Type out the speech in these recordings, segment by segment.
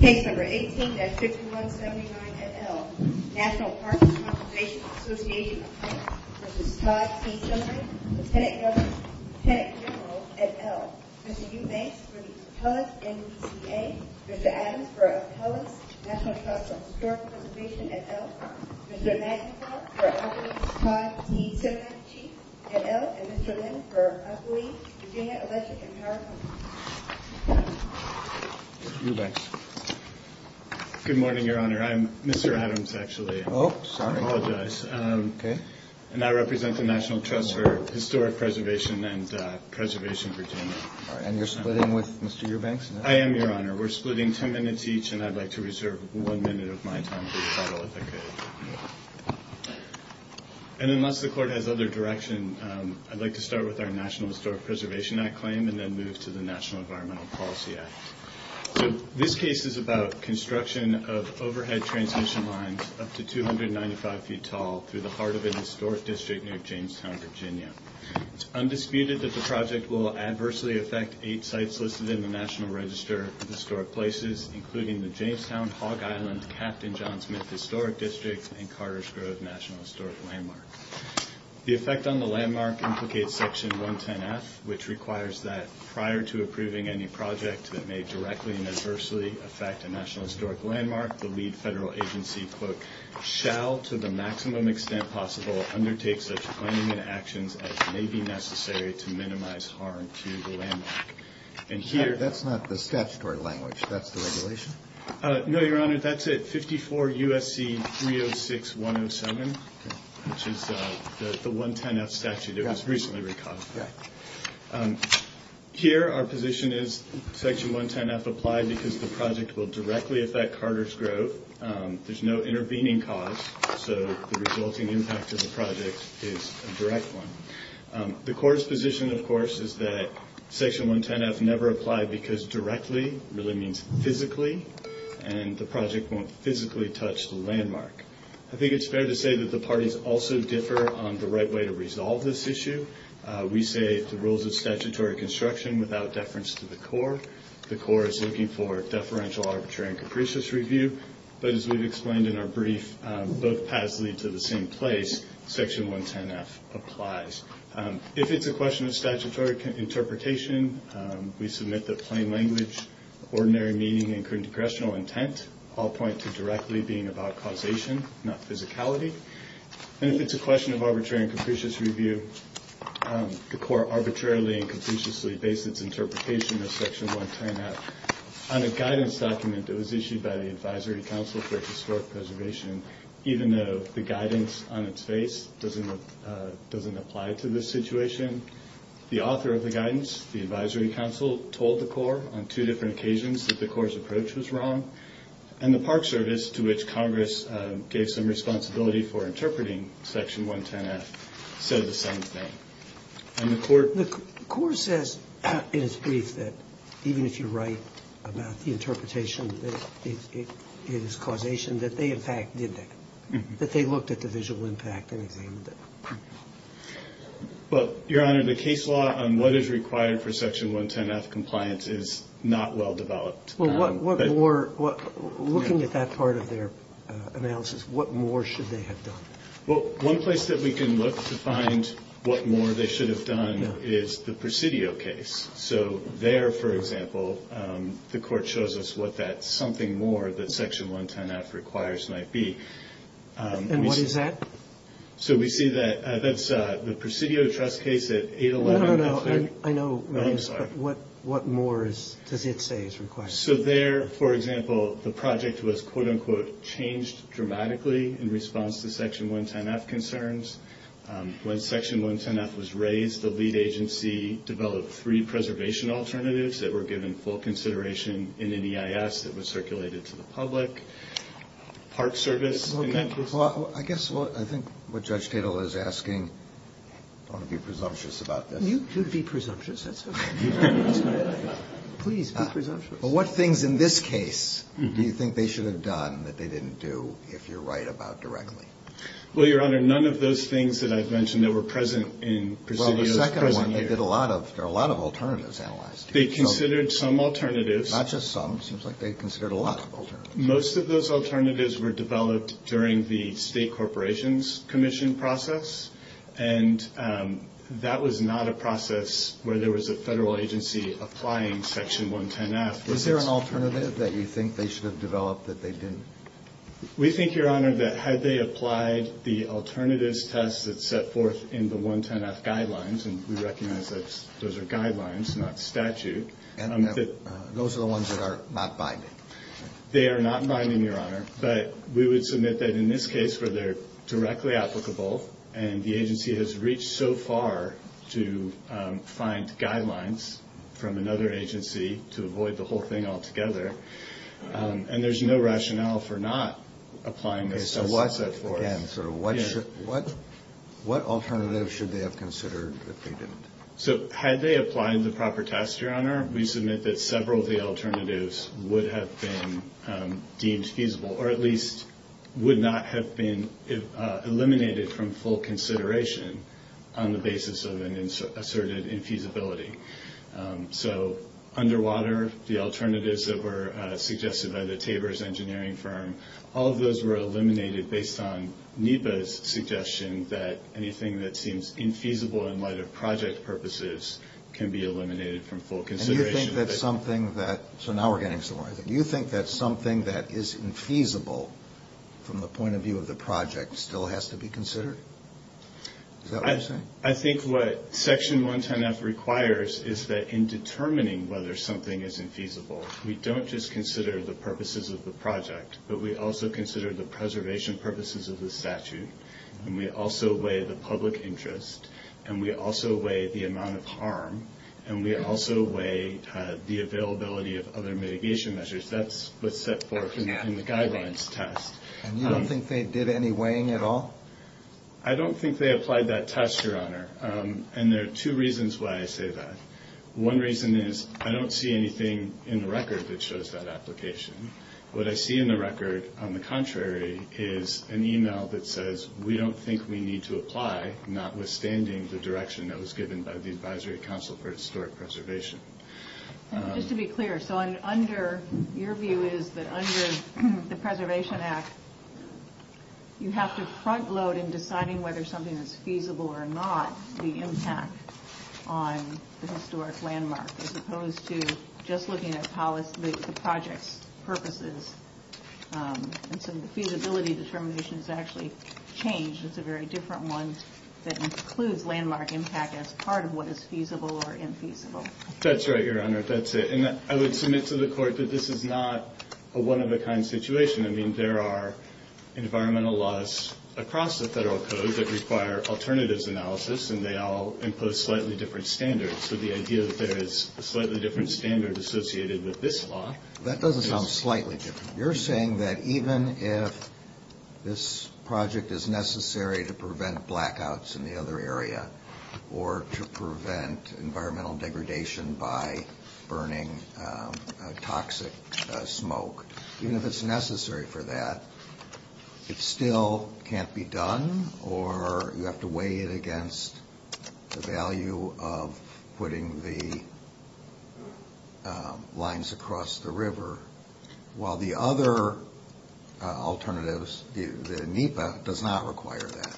Page number 18 at 6179 at L. National Parks and Conservation Assoc. v. Todd C. Semonite Senate Governor, Senate General at L. Mr. Hugh May for the Todd NCCA Mr. Adams for the Todd National Parks and Historic Preservation at L. Mr. Magnus for the Todd D. Citizenship Chief at L. and Mr. Lynn for L. D. Virginia Electric and Charcoal Mr. Eubanks Good morning, Your Honor. I'm Mr. Adams, actually. Oh, sorry. I apologize. Okay. And I represent the National Trust for Historic Preservation and Preservation Virginia. And you're splitting with Mr. Eubanks? I am, Your Honor. We're splitting ten minutes each, and I'd like to reserve one minute of my time for the follow-up. Okay. And unless the Court has other direction, I'd like to start with our National Historic Preservation Act claim and then move to the National Environmental Policy Act. So this case is about construction of overhead transmission lines up to 295 feet tall through the heart of a historic district near Jamestown, Virginia. It's undisputed that the project will adversely affect eight sites listed in the National Register of Historic Places, including the Jamestown, Hog Island, Captain John Smith Historic District, and Carter's Grove National Historic Landmark. The effect on the landmark implicates Section 110-F, which requires that prior to approving any project that may directly and adversely affect a National Historic Landmark, the lead federal agency, quote, shall to the maximum extent possible undertake such planning and actions as may be necessary to minimize harm to the landmark. That's not the statutory language. That's the regulation? No, Your Honor, that's it. 54 U.S.C. 306-107, which is the 110-F statute that was recently recaused. Here, our position is Section 110-F applies because the project will directly affect Carter's Grove. There's no intervening cause, so the resulting impact of the project is a direct one. The Court's position, of course, is that Section 110-F never applied because directly really means physically, and the project won't physically touch the landmark. I think it's fair to say that the parties also differ on the right way to resolve this issue. We say the rules of statutory construction without deference to the Court. The Court is looking for deferential, arbitrary, and capricious review. But as we've explained in our brief, both paths lead to the same place. Section 110-F applies. If it's a question of statutory interpretation, we submit that plain language, ordinary meaning, and congressional intent all point to directly being about causation, not physicality. And if it's a question of arbitrary and capricious review, the Court arbitrarily and capriciously based its interpretation of Section 110-F on a guidance document that was issued by the Advisory Council for Historic Preservation, even though the guidance on its face doesn't apply to this situation. The author of the guidance, the Advisory Council, told the Court on two different occasions that the Court's approach was wrong. And the Park Service, to which Congress gave some responsibility for interpreting Section 110-F, said the same thing. The Court says in its brief that even if you're right about the interpretation that it is causation, that they, in fact, did that. That they looked at the visual impact. Your Honor, the case law on what is required for Section 110-F compliance is not well-developed. Looking at that part of their analysis, what more should they have done? Well, one place that we can look to find what more they should have done is the Presidio case. So there, for example, the Court shows us what that something more that Section 110-F requires might be. And what is that? So we see that that's the Presidio trust case at 811. I know, but what more does it say is required? So there, for example, the project was, quote-unquote, changed dramatically in response to Section 110-F concerns. When Section 110-F was raised, the lead agency developed three preservation alternatives that were given full consideration in an EIS that was circulated to the public. Park Service. I guess I think what Judge Tatel is asking, don't be presumptuous about that. You should be presumptuous. Please, be presumptuous. But what things in this case do you think they should have done that they didn't do if you're right about directly? Well, Your Honor, none of those things that I've mentioned that were present in Presidio. Well, the second one, there are a lot of alternatives analyzed. They considered some alternatives. Not just some. It seems like they considered a lot of alternatives. Most of those alternatives were developed during the State Corporations Commission process, and that was not a process where there was a federal agency applying Section 110-F. Was there an alternative that you think they should have developed that they didn't? We think, Your Honor, that had they applied the alternatives test that's set forth in the 110-F guidelines, and we recognize that those are guidelines, not statute. Those are the ones that are not binding. They are not binding, Your Honor. But we would submit that in this case where they're directly applicable and the agency has reached so far to find guidelines from another agency to avoid the whole thing altogether, and there's no rationale for not applying those. Again, so what alternatives should they have considered if they didn't? We submit that several of the alternatives would have been deemed feasible or at least would not have been eliminated from full consideration on the basis of an asserted infeasibility. So underwater, the alternatives that were suggested by the Tabor's engineering firm, all of those were eliminated based on NEPA's suggestion that anything that seems infeasible in light of project purposes can be eliminated from full consideration. So now we're getting somewhere. Do you think that something that is infeasible from the point of view of the project still has to be considered? Is that what you're saying? I think what Section 110-F requires is that in determining whether something is infeasible, we don't just consider the purposes of the project, but we also consider the preservation purposes of the statute, and we also weigh the public interest, and we also weigh the amount of harm, and we also weigh the availability of other mitigation measures. That's what's set forth in the guidelines test. And you don't think they did any weighing at all? I don't think they applied that test, Your Honor, and there are two reasons why I say that. One reason is I don't see anything in the record that shows that application. What I see in the record, on the contrary, is an email that says we don't think we need to apply, notwithstanding the direction that was given by the Advisory Council for Historic Preservation. Just to be clear, so under your view is that under the Preservation Act, you have to front load in deciding whether something is feasible or not the impact on the historic landmark, as opposed to just looking at how the project's purposes and some of the feasibility determinations actually change. It's a very different one that includes landmark impact as part of what is feasible or infeasible. That's right, Your Honor. That's it. And I would submit to the Court that this is not a one-of-a-kind situation. I mean, there are environmental laws across the federal code that require alternatives analysis, and they all impose slightly different standards. So the idea that there is a slightly different standard associated with this law. That doesn't sound slightly different. You're saying that even if this project is necessary to prevent blackouts in the other area or to prevent environmental degradation by burning toxic smoke, even if it's necessary for that, it still can't be done, or you have to weigh it against the value of putting the lines across the river, while the other alternatives, the NEPA, does not require that.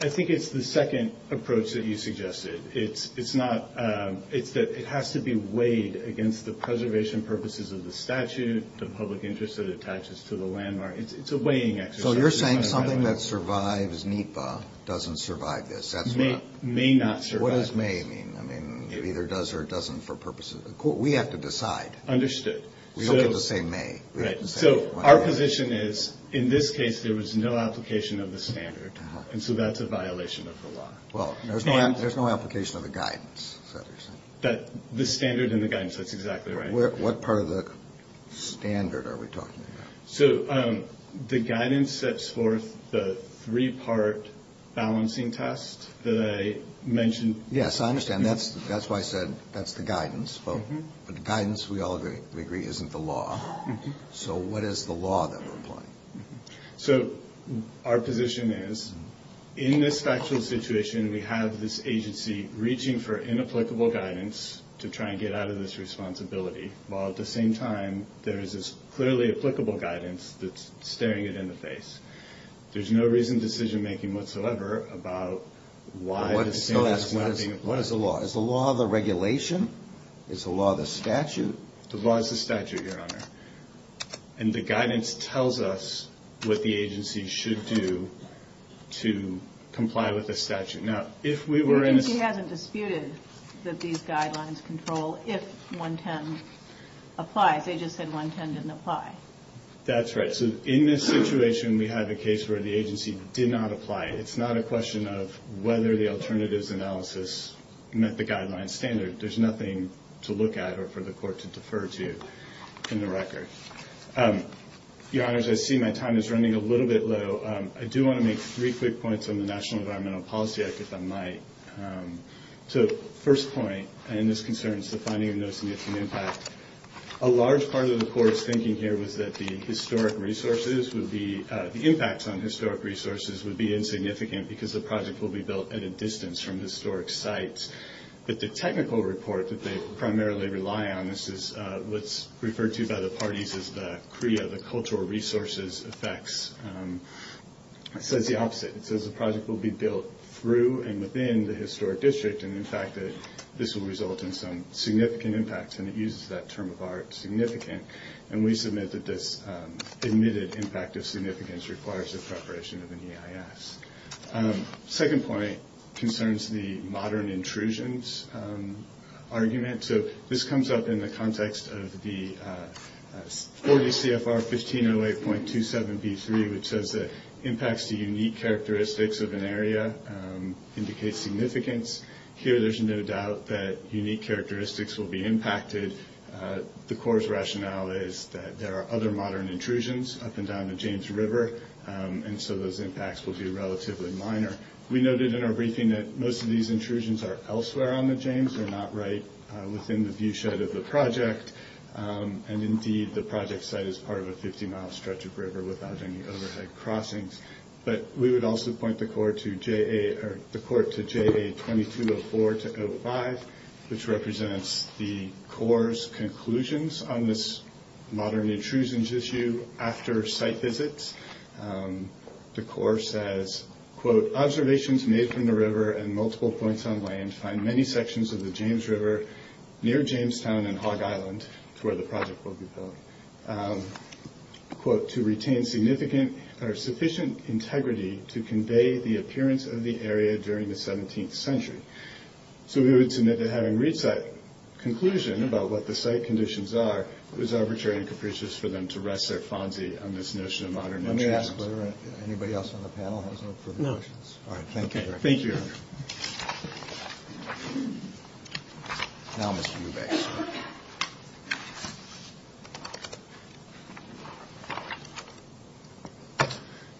I think it's the second approach that you suggested. It's that it has to be weighed against the preservation purposes of the statute, the public interest that it attaches to the landmark. It's a weighing exercise. So you're saying something that survives NEPA doesn't survive this. May not survive. What does may mean? I mean, it either does or it doesn't for purposes of the Court. We have to decide. Understood. We don't have to say may. Right. So our position is, in this case, there was no application of the standard, and so that's a violation of the law. Well, there's no application of the guidance. The standard and the guidance, that's exactly right. What part of the standard are we talking about? So the guidance sets forth the three-part balancing test that I mentioned. Yes, I understand. That's why I said that's the guidance. But the guidance, we all agree, isn't the law. So what is the law that we're applying? So our position is, in this factual situation, we have this agency reaching for inapplicable guidance to try and get out of this responsibility, while at the same time there is this clearly applicable guidance that's staring it in the face. There's no reasoned decision-making whatsoever about why this thing is not being implemented. What is the law? Is the law the regulation? Is the law the statute? The law is the statute, Your Honor. And the guidance tells us what the agency should do to comply with the statute. The agency hasn't disputed that these guidelines control if 110 applies. They just said 110 didn't apply. That's right. So in this situation, we have a case where the agency did not apply. It's not a question of whether the alternatives analysis met the guideline standard. There's nothing to look at or for the court to defer to in the record. Your Honor, as I see my time is running a little bit low, I do want to make three quick points on the National Environmental Policy Act, if I might. So first point, and this concerns the finding of no significant impact. A large part of the court's thinking here was that the historic resources would be – the impacts on historic resources would be insignificant because the project will be built at a distance from historic sites. But the technical report that they primarily rely on, this is what's referred to by the parties as the CREA, the cultural resources effects, says the opposite because the project will be built through and within the historic district and, in fact, this will result in some significant impacts. And it uses that term of art, significant. And we submit that this admitted impact of significance requires the preparation of an EIS. Second point concerns the modern intrusions argument. So this comes up in the context of the 40 CFR 1508.27B3, which says that impacts to unique characteristics of an area indicate significance. Here there's no doubt that unique characteristics will be impacted. The court's rationale is that there are other modern intrusions up and down the James River, and so those impacts will be relatively minor. We noted in our briefing that most of these intrusions are elsewhere on the James, they're not right within the viewshed of the project. And, indeed, the project site is part of a 50-mile stretch of river without any overhead crossings. But we would also point the court to JA-2204-05, which represents the court's conclusions on this modern intrusions issue after site visits. The court says, quote, observations made from the river and multiple points on land find many sections of the James River near Jamestown and Hog Island for the project, quote, unquote, quote, to retain significant or sufficient integrity to convey the appearance of the area during the 17th century. So we would submit that having reached that conclusion about what the site conditions are is arbitrary and capricious for them to rest their fancy on this notion of modern intrusions. Let me ask if anybody else on the panel has any further questions. No. All right, thank you. Thank you.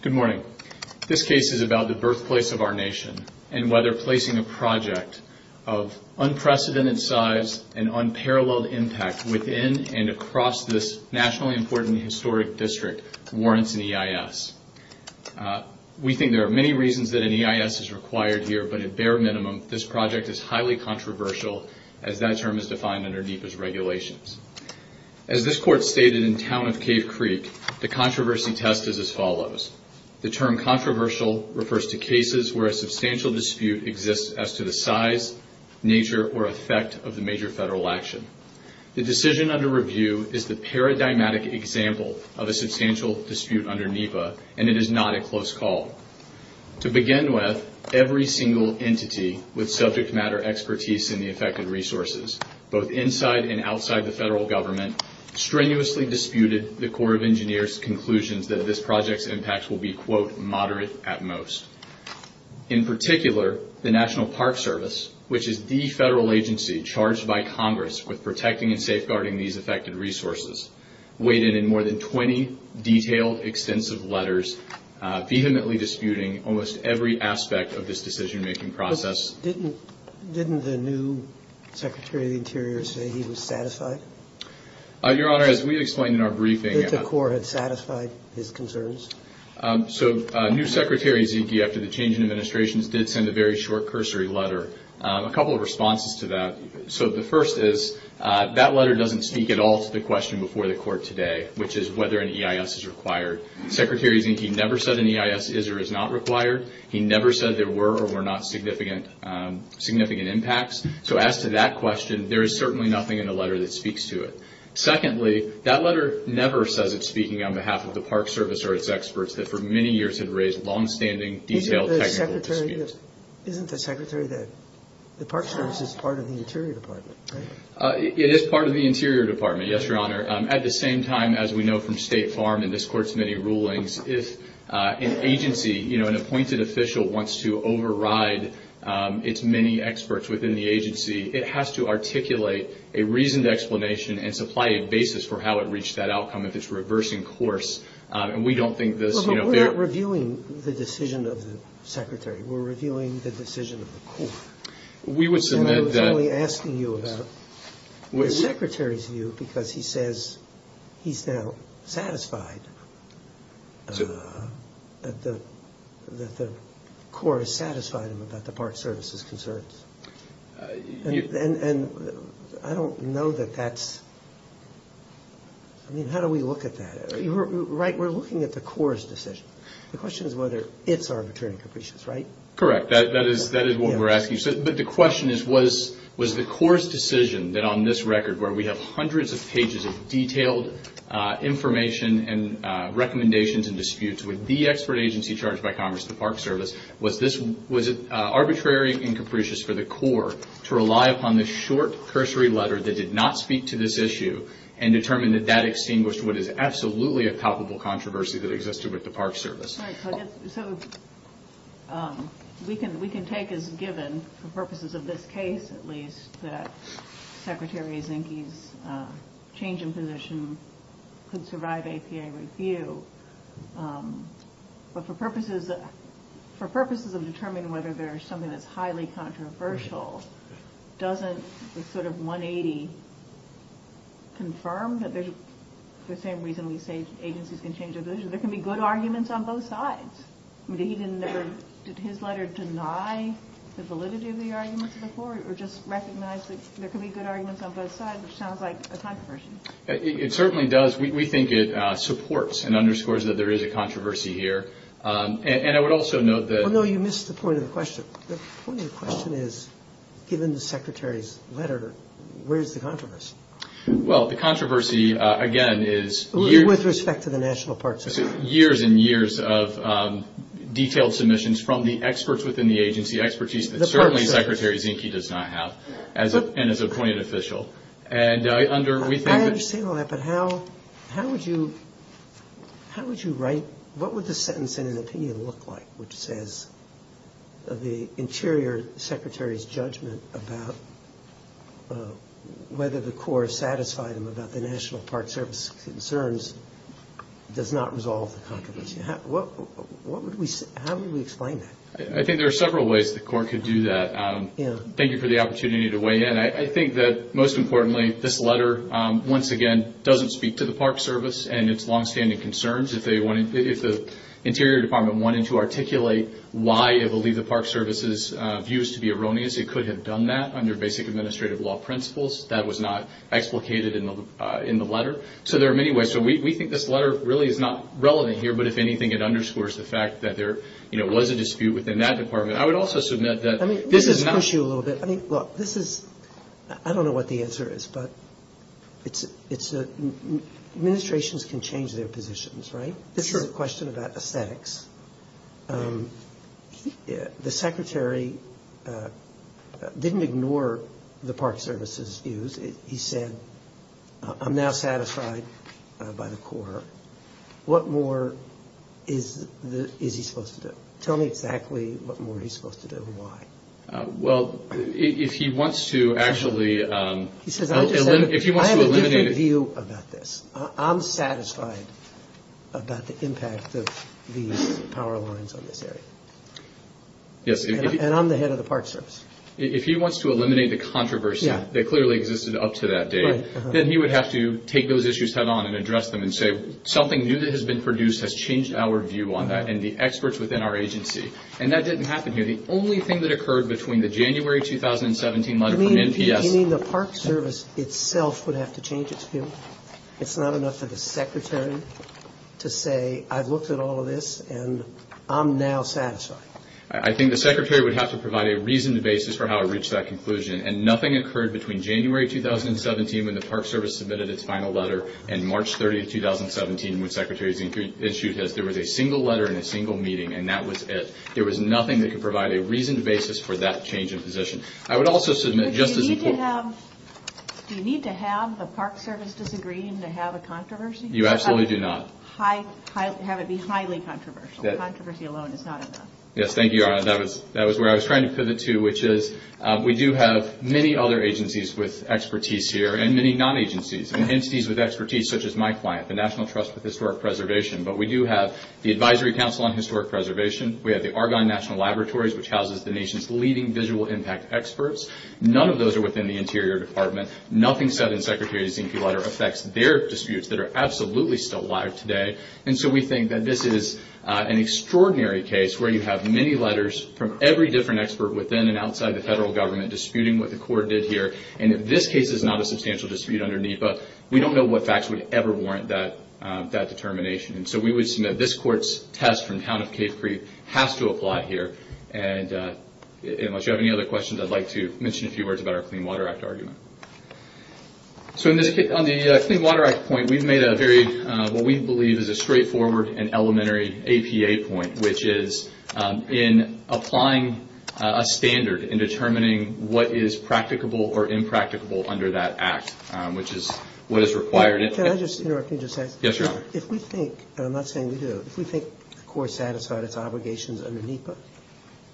Good morning. This case is about the birthplace of our nation and whether placing a project of unprecedented size and unparalleled impact within and across this nationally important historic district warrants an EIS. We think there are many reasons that an EIS is required here, but at bare minimum this project is highly controversial as that term is defined underneath its regulations. As this court stated in Town of Cave Creek, the controversy test is as follows. The term controversial refers to cases where a substantial dispute exists as to the size, nature, or effect of the major federal action. The decision under review is the paradigmatic example of a substantial dispute under NEPA, and it is not a close call. To begin with, every single entity with subject matter expertise in the affected resources, both inside and outside the federal government, strenuously disputed the Corps of Engineers' conclusions that this project's impact will be, quote, moderate at most. In particular, the National Park Service, which is the federal agency charged by Congress with protecting and safeguarding these affected resources, weighed in in more than 20 detailed, extensive letters vehemently disputing almost every aspect of this decision-making process. Didn't the new Secretary of the Interior say he was satisfied? Your Honor, as we explained in our briefing... That the Corps had satisfied his concerns? So new Secretary Zinke, after the change in administrations, did send a very short cursory letter. A couple of responses to that. So the first is that letter doesn't speak at all to the question before the Court today, which is whether an EIS is required. Secretary Zinke never said an EIS is or is not required. He never said there were or were not significant impacts. So as to that question, there is certainly nothing in the letter that speaks to it. Secondly, that letter never says it's speaking on behalf of the Park Service or its experts that for many years have raised longstanding, detailed technical disputes. Isn't the Secretary that the Park Service is part of the Interior Department? It is part of the Interior Department, yes, Your Honor. At the same time, as we know from State Farm and this Court's many rulings, if an agency, you know, an appointed official wants to override its many experts within the agency, it has to articulate a reasoned explanation and supply a basis for how it reached that outcome if it's reversing course, and we don't think this... But we're not reviewing the decision of the Secretary. We're reviewing the decision of the Corps. We would submit that... That the Corps is satisfied about the Park Service's concerns. And I don't know that that's... I mean, how do we look at that? Right, we're looking at the Corps' decision. The question is whether it's arbitrary and capricious, right? Correct. That is what we're asking. But the question is was the Corps' decision that on this record where we have hundreds of pages of detailed information and recommendations and disputes with the expert agency charged by Congress, the Park Service, was this... Was it arbitrary and capricious for the Corps to rely upon the short cursory letter that did not speak to this issue and determine that that extinguished what is absolutely a palpable controversy that existed with the Park Service? So we can take as given, for purposes of this case at least, that Secretary Zinke's change in position could survive ACA review. But for purposes of determining whether there's something that's highly controversial, doesn't this sort of 180 confirm that there's... There can be good arguments on both sides. Did his letter deny the validity of the arguments of the Corps or just recognize that there can be good arguments on both sides, which sounds like a controversy? It certainly does. We think it supports and underscores that there is a controversy here. And I would also note that... Oh, no, you missed the point of the question. The point of the question is given the Secretary's letter, where is the controversy? Well, the controversy, again, is... With respect to the National Park Service. ...years and years of detailed submissions from the experts within the agency, expertise that certainly Secretary Zinke does not have as an appointed official. I understand all that, but how would you write... What would the sentence in an opinion look like which says the Interior Secretary's judgment about whether the Corps satisfied him about the National Park Service's concerns does not resolve the controversy? How would we explain that? I think there are several ways the Corps could do that. Thank you for the opportunity to weigh in. I think that, most importantly, this letter, once again, doesn't speak to the Park Service and its longstanding concerns. If the Interior Department wanted to articulate why it believed the Park Service's views to be erroneous, it could have done that under basic administrative law principles. That was not explicated in the letter. So there are many ways. We think this letter really is not relevant here, but if anything it underscores the fact that there was a dispute within that department. I would also submit that... Let me push you a little bit. Look, this is... I don't know what the answer is, but it's... This is sort of a question about aesthetics. The Secretary didn't ignore the Park Service's views. He said, I'm now satisfied by the Corps. What more is he supposed to do? Tell me exactly what more he's supposed to do and why. Well, if he wants to actually... I have a different view about this. I'm satisfied about the impact of the power lines on this area. And I'm the head of the Park Service. If he wants to eliminate the controversy that clearly existed up to that date, then he would have to take those issues down on and address them and say, something new that has been produced has changed our view on that and the experts within our agency. And that didn't happen here. The only thing that occurred between the January 2017 letter from NPS... That's not enough of a secretary to say, I've looked at all of this, and I'm now satisfied. I think the Secretary would have to provide a reasoned basis for how to reach that conclusion. And nothing occurred between January 2017 when the Park Service submitted its final letter and March 30, 2017 when the Secretary issued it. There was a single letter and a single meeting, and that was it. There was nothing that could provide a reasoned basis for that change in position. I would also submit... Do you need to have the Park Service disagreeing to have a controversy? You absolutely do not. Have it be highly controversial. Controversy alone is not enough. Yes, thank you, Arlen. That was where I was trying to pivot to, which is we do have many other agencies with expertise here and many non-agencies and entities with expertise such as my client, the National Trust for Historic Preservation. But we do have the Advisory Council on Historic Preservation. We have the Argonne National Laboratories, which houses the nation's leading visual impact experts. None of those are within the Interior Department. Nothing said in Secretary Zinke's letter affects their disputes that are absolutely still alive today. And so we think that this is an extraordinary case where you have many letters from every different expert within and outside the federal government disputing what the court did here. And if this case is not a substantial dispute underneath us, we don't know what facts would ever warrant that determination. And so we would submit this court's test from the town of Cape Creek has to apply here. And unless you have any other questions, I'd like to mention a few words about our Clean Water Act argument. So on the Clean Water Act point, we've made a very what we believe is a straightforward and elementary APA point, which is in applying a standard in determining what is practicable or impracticable under that act, which is what is required. Can I just interrupt you for a second? Yes, Your Honor. If we think, and I'm not saying we do, but if we think the court satisfied its obligations under NEPA,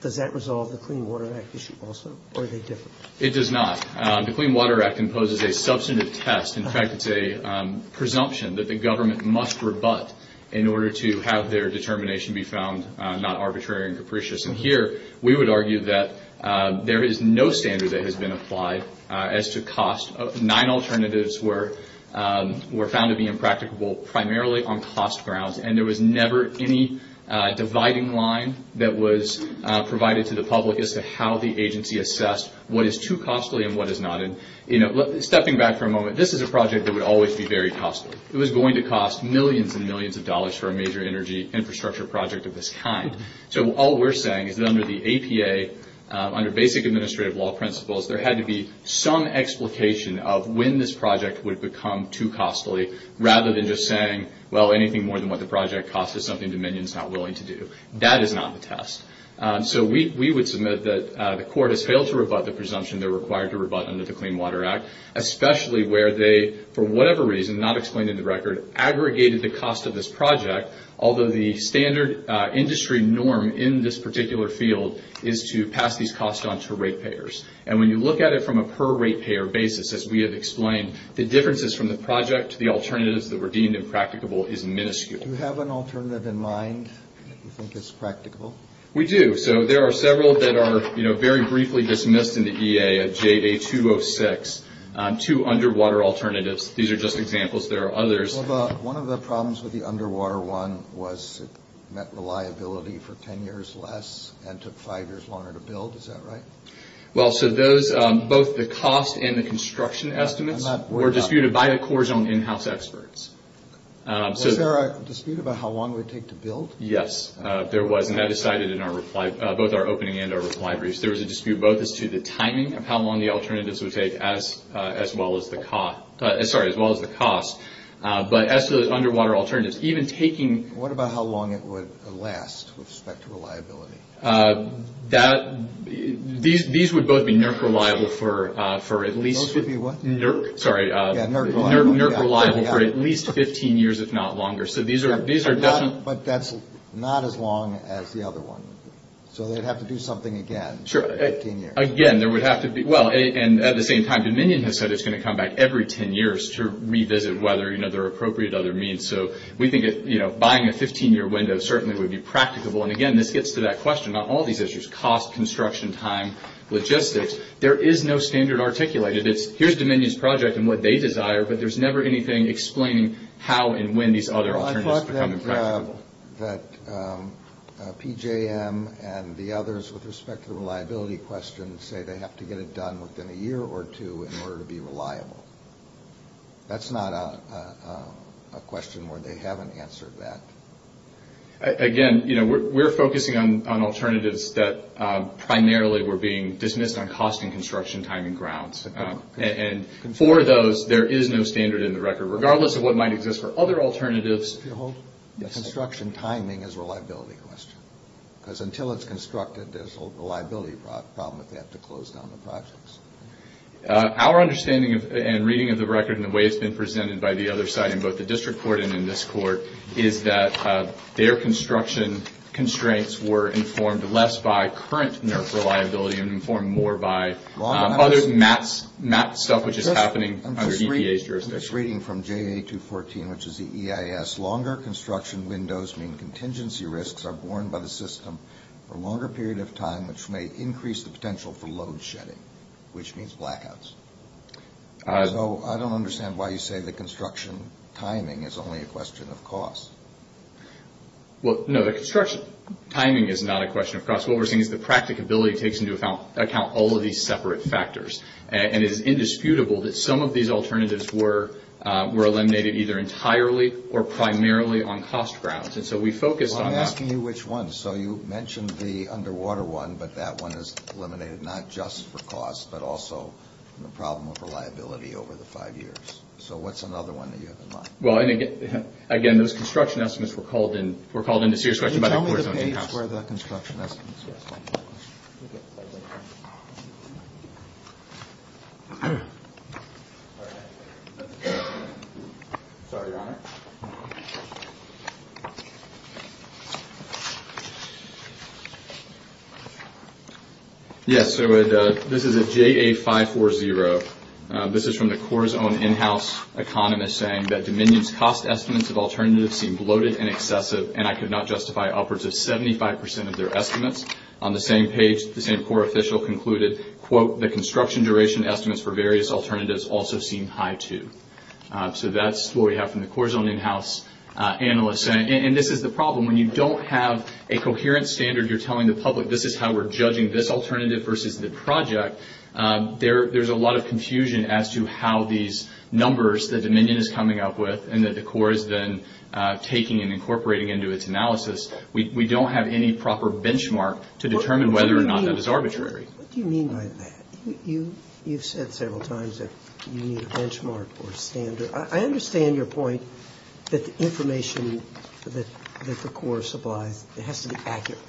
does that resolve the Clean Water Act issue also? Or is it different? It does not. The Clean Water Act imposes a substantive test. In fact, it's a presumption that the government must rebut in order to have their determination be found not arbitrary and capricious. And here we would argue that there is no standard that has been applied as to cost. Nine alternatives were found to be impracticable primarily on cost grounds, and there was never any dividing line that was provided to the public as to how the agency assessed what is too costly and what is not. Stepping back for a moment, this is a project that would always be very costly. It was going to cost millions and millions of dollars for a major energy infrastructure project of this kind. So all we're saying is that under the APA, under basic administrative law principles, there had to be some explication of when this project would become too costly rather than just saying, well, anything more than what the project costs is something Dominion is not willing to do. That is not the test. So we would submit that the court has failed to rebut the presumption they're required to rebut under the Clean Water Act, especially where they, for whatever reason, not explaining the record, aggregated the cost of this project, although the standard industry norm in this particular field is to pass these costs on to ratepayers. And when you look at it from a per ratepayer basis, as we have explained, the differences from the project to the alternatives that were deemed impracticable is minuscule. Do you have an alternative in mind that you think is practicable? We do. So there are several that are very briefly dismissed in the EA of JA206, two underwater alternatives. These are just examples. There are others. One of the problems with the underwater one was it meant reliability for 10 years less and took five years longer to build. Is that right? Well, so those, both the cost and the construction estimates, were disputed by the cores on in-house experts. Was there a dispute about how long it would take to build? Yes, there was, and that is cited in both our opening and our reply briefs. There was a dispute both as to the timing of how long the alternatives would take as well as the cost, but as to those underwater alternatives. What about how long it would last with respect to reliability? These would both be NERC reliable for at least 15 years, if not longer. But that's not as long as the other one. So they would have to do something again for 15 years. Again, there would have to be. Well, and at the same time, Dominion has said it's going to come back every 10 years to revisit whether there are appropriate other means. So we think buying a 15-year window certainly would be practicable. And, again, this gets to that question about all these issues, cost, construction, time, logistics. There is no standard articulated. It's here's Dominion's project and what they desire, but there's never anything explaining how and when these other alternatives become practical. I thought that PJM and the others with respect to the reliability question say they have to get it done within a year or two in order to be reliable. That's not a question where they haven't answered that. Again, we're focusing on alternatives that primarily were being dismissed on cost and construction, time, and grounds. And for those, there is no standard in the record. Regardless of what might exist for other alternatives. The construction timing is a reliability question. Because until it's constructed, there's a reliability problem if they have to close down the projects. Our understanding and reading of the record and the way it's been presented by the other side, both the district court and in this court, is that their construction constraints were informed less by current NERF reliability and informed more by other MAP stuff, which is happening under EPA jurisdiction. I'm just reading from JA214, which is the EIS. Longer construction windows mean contingency risks are borne by the system for a longer period of time, which may increase the potential for load shedding, which means blackouts. So I don't understand why you say the construction timing is only a question of cost. Well, no, the construction timing is not a question of cost. What we're seeing is the practicability takes into account all of these separate factors. And it is indisputable that some of these alternatives were eliminated either entirely or primarily on cost grounds. And so we focused on that. Well, I'm asking you which ones. So you mentioned the underwater one, but that one is eliminated not just for cost, but also the problem of reliability over the five years. So what's another one that you have in mind? Well, again, those construction estimates were called into discussion by the court. Can you tell me where the construction estimates are? Sorry, Your Honor. Yes, so this is a JA540. This is from the Corps' own in-house economist saying that Dominion's cost estimates of alternatives seem bloated and excessive, and I could not justify upwards of 75% of their estimates. On the same page, the same Corps official concluded, quote, the construction duration estimates for various alternatives also seem high, too. And this is the problem. When you don't have a coherent standard, you're telling the public, this is how we're judging this alternative versus the project, there's a lot of confusion as to how these numbers that Dominion is coming up with and that the Corps has been taking and incorporating into its analysis, we don't have any proper benchmark to determine whether or not that is arbitrary. What do you mean by that? You've said several times that you need a benchmark or standard. I understand your point that the information that the Corps supplies, it has to be accurate.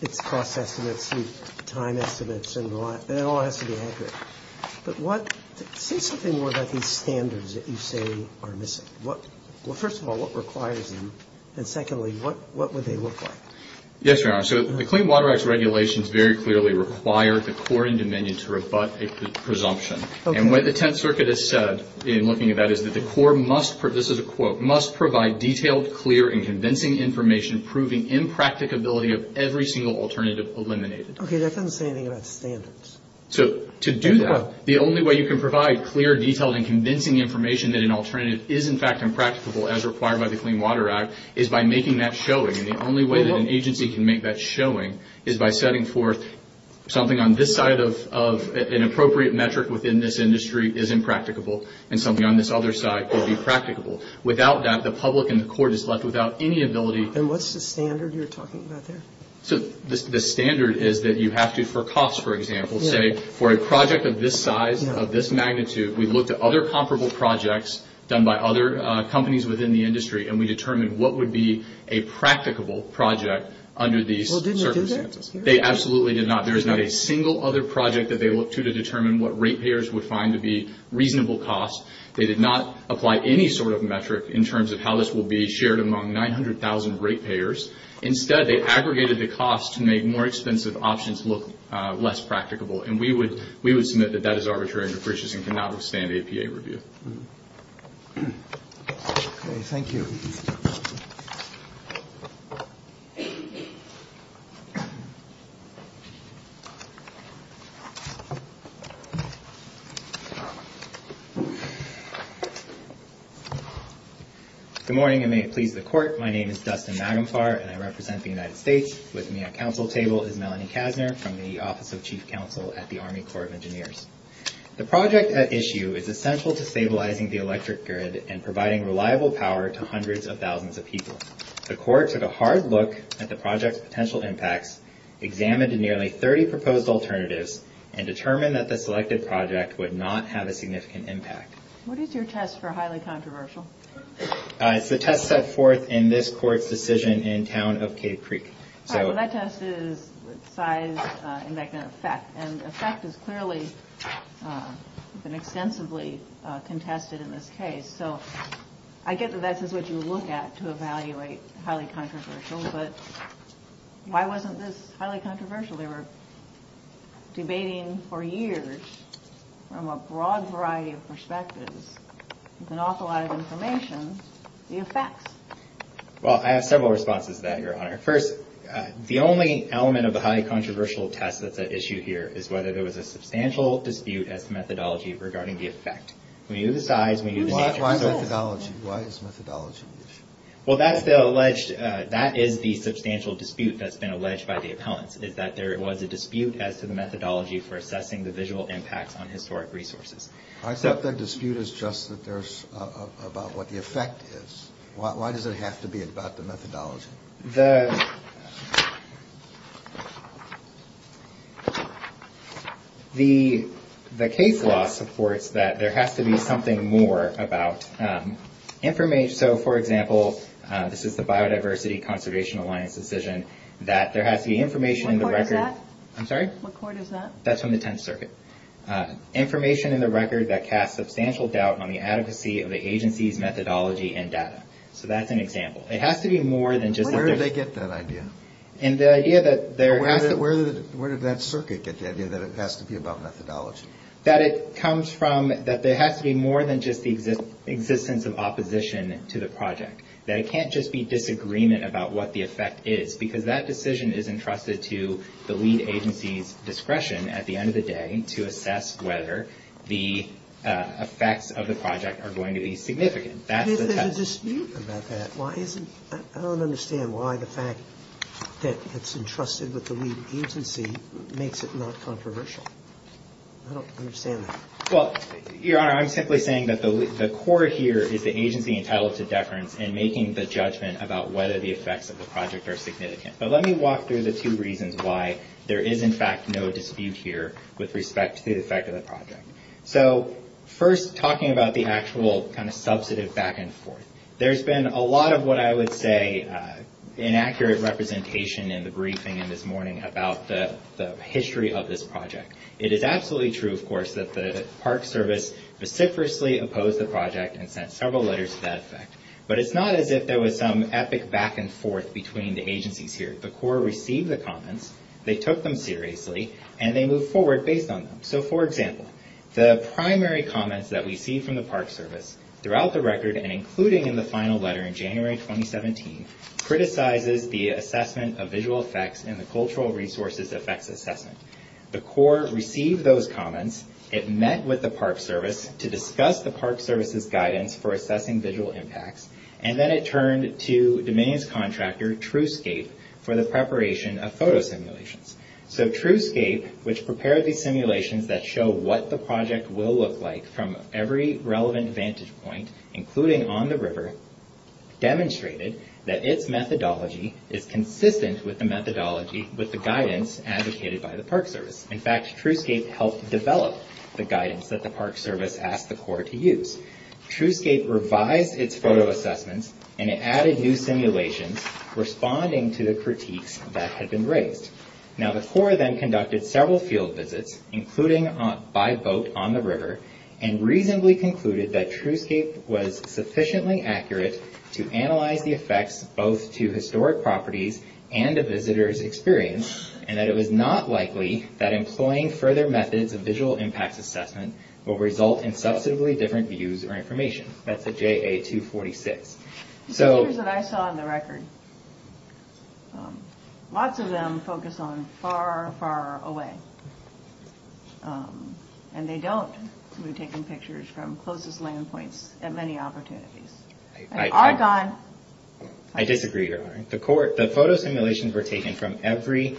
It's cost estimates and time estimates and it all has to be accurate. But say something more about these standards that you say are missing. Well, first of all, what requires them? And secondly, what would they look like? Yes, Your Honor. So the Clean Water Act's regulations very clearly require the Corps and Dominion to rebut a presumption. And what the Tenth Circuit has said in looking at that is that the Corps must, this is a quote, must provide detailed, clear, and convincing information proving impracticability of every single alternative eliminated. Okay, that doesn't say anything about standards. So to do that, the only way you can provide clear, detailed, and convincing information that an alternative is in fact impracticable as required by the Clean Water Act is by making that showing. And the only way that an agency can make that showing is by setting forth something on this side of an appropriate metric within this industry is impracticable and something on this other side could be practicable. Without that, the public and the court is left without any ability. And what's the standard you're talking about there? So the standard is that you have to, for costs, for example, say for a project of this size, of this magnitude, we looked at other comparable projects done by other companies within the industry and we determined what would be a practicable project under these circumstances. Well, did they do that? They absolutely did not. There is not a single other project that they looked to to determine what rate payers would find to be reasonable cost. They did not apply any sort of metric in terms of how this will be shared among 900,000 rate payers. Instead, they aggregated the cost to make more expensive options look less practicable. And we would submit that that is arbitrary and capricious and cannot withstand APA review. Okay, thank you. Good morning and may it please the court. My name is Dustin Magenclar and I represent the United States. With me at council table is Melanie Kastner from the Office of Chief Counsel at the Army Corps of Engineers. The project at issue is essential to stabilizing the electric grid and providing reliable power to hundreds of thousands of people. The court took a hard look at the project's potential impacts, examined nearly 30 proposed alternatives and determined that the selected project would not have a significant impact. What is your test for highly controversial? It's the test set forth in this court's decision in the town of Kidd Creek. All right, so that test is size and effect. And effect is clearly extensively contested in this case. So I get that that's what you look at to evaluate highly controversial, but why wasn't this highly controversial? They were debating for years from a broad variety of perspectives, with an awful lot of information, the effect. Well, I have several responses to that, Your Honor. First, the only element of a highly controversial test that's at issue here is whether there was a substantial dispute at the methodology regarding the effect. We use size, we use- Why methodology? Why is methodology an issue? Well, that's the alleged- that is the substantial dispute that's been alleged by the appellant, is that there was a dispute as to the methodology for assessing the visual impact on historic resources. I think the dispute is just that there's- about what the effect is. Why does it have to be about the methodology? The case law supports that there has to be something more about information. So, for example, this is the Biodiversity Conservation Alliance decision, that there has to be information in the record- What court is that? I'm sorry? What court is that? That's from the Tenth Circuit. Information in the record that casts substantial doubt on the adequacy of the agency's methodology and data. So that's an example. It has to be more than just- Where did they get that idea? And the idea that there has to- Where did that circuit get the idea that it has to be about methodology? That it comes from- that there has to be more than just the existence of opposition to the project. That it can't just be disagreement about what the effect is, because that decision is entrusted to the lead agency's discretion at the end of the day to assess whether the effects of the project are going to be significant. Is there a dispute about that? I don't understand why the fact that it's entrusted with the lead agency makes it not controversial. I don't understand that. Well, Your Honor, I'm simply saying that the core here is the agency entitled to deference and making the judgment about whether the effects of the project are significant. But let me walk through the two reasons why there is, in fact, no dispute here with respect to the effect of the project. So, first, talking about the actual kind of substantive back-and-forth. There's been a lot of what I would say inaccurate representation in the briefing this morning about the history of this project. It is absolutely true, of course, that the Park Service specifically opposed the project and sent several letters to that effect. But it's not as if there was some epic back-and-forth between the agencies here. The core received the comments, they took them seriously, and they moved forward based on them. So, for example, the primary comments that we see from the Park Service throughout the record and including in the final letter in January 2017, criticizes the assessment of visual effects and the cultural resources effects assessment. The core received those comments, it met with the Park Service to discuss the Park Service's guidance for assessing visual impacts, and then it turned to Domain's contractor, TruScape, for the preparation of photo simulations. So, TruScape, which prepared these simulations that show what the project will look like from every relevant vantage point, including on the river, demonstrated that its methodology is consistent with the methodology with the guidance advocated by the Park Service. In fact, TruScape helped develop the guidance that the Park Service asked the core to use. TruScape revised its photo assessments, and it added new simulations, responding to the critiques that had been raised. Now, the core then conducted several field visits, including by boat on the river, and reasonably concluded that TruScape was sufficiently accurate to analyze the effects both to historic properties and the visitor's experience, and that it was not likely that employing further methods of visual impact assessment will result in substantively different views or information. That's the JA 246. The pictures that I saw on the record, lots of them focus on far, far away, and they don't be taking pictures from closest land points at many opportunities. I disagree, Your Honor. The photo simulations were taken from every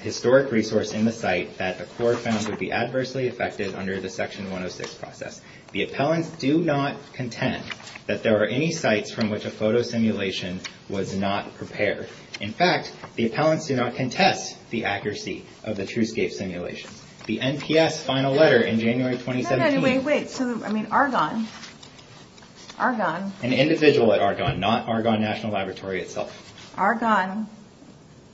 historic resource in the site that the core found to be adversely affected under the Section 106 process. The appellants do not contend that there are any sites from which a photo simulation was not prepared. In fact, the appellants do not contend the accuracy of the TruScape simulation. The NPS final letter in January 2017... Wait, wait. I mean, Argonne. Argonne. An individual at Argonne, not Argonne National Laboratory itself. Argonne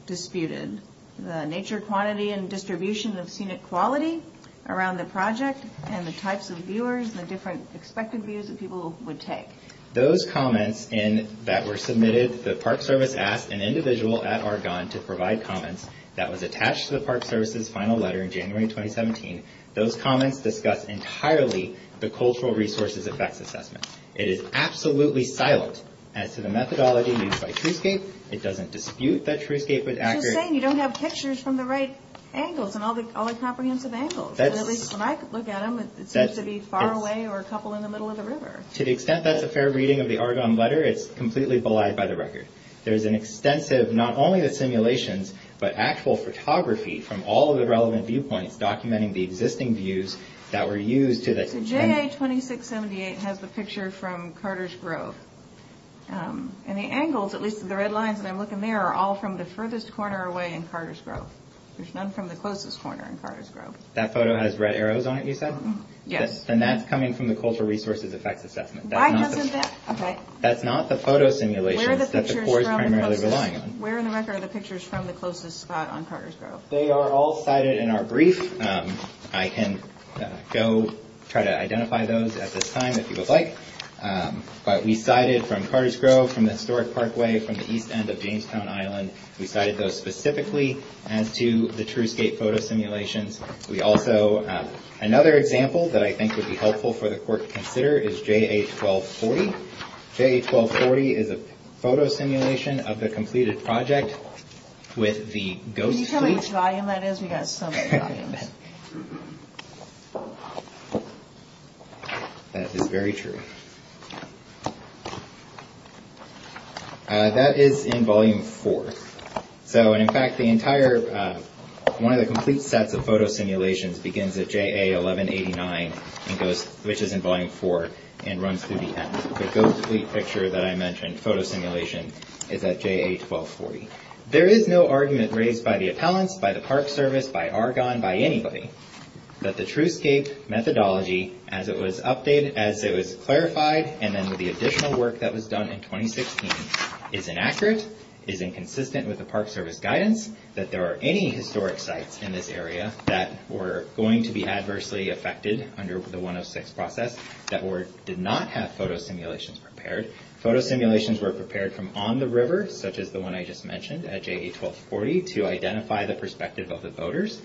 disputed the nature, quantity, and distribution of scenic quality around the project and the types of viewers and the different expected views that people would take. Those comments that were submitted, the Park Service asked an individual at Argonne to provide comments that was attached to the Park Service's final letter in January 2017. Those comments discuss entirely the cultural resources effect assessment. It is absolutely silent as to the methodology used by TruScape. It doesn't dispute that TruScape is accurate. He's just saying you don't have pictures from the right angles and all the comprehensive angles. At least when I look at them, it seems to be far away or a couple in the middle of the river. To the extent that it's a fair reading of the Argonne letter, it's completely belied by the record. There's an extensive, not only the simulations, but actual photography from all of the relevant viewpoints documenting the existing views that were used to- The J.A. 2678 has a picture from Carter's Grove. And the angles, at least the red lines when I'm looking there, are all from the furthest corner away in Carter's Grove. There's none from the closest corner in Carter's Grove. That photo has red arrows on it, you said? Yes. Then that's coming from the cultural resources effect assessment. That's not the photo simulation. Where in the record are the pictures from the closest spot on Carter's Grove? They are all cited in our brief. I can go try to identify those at this time if you would like. But we cited from Carter's Grove, from the historic parkway, from the east end of Jamestown Island. We cited those specifically as to the TruScape photo simulation. We also- another example that I think would be helpful for the court to consider is J.A. 1240. J.A. 1240 is a photo simulation of the completed project with the ghost- Can you tell how much volume that is? We've got so much volume. That is very true. That is in volume four. So, in fact, the entire- one of the complete sets of photo simulations begins at J.A. 1189, which is in volume four, and runs through the end. The ghostly picture that I mentioned, photo simulation, is at J.A. 1240. There is no argument raised by the appellants, by the Park Service, by Argonne, by anybody, that the TruScape methodology as it was updated, as it was clarified, and then the additional work that was done in 2016 is inaccurate, is inconsistent with the Park Service guidance, that there are any historic sites in this area that were going to be adversely affected under the 106 process that did not have photo simulations prepared. Photo simulations were prepared from on the river, such as the one I just mentioned at J.A. 1240, to identify the perspective of the voters.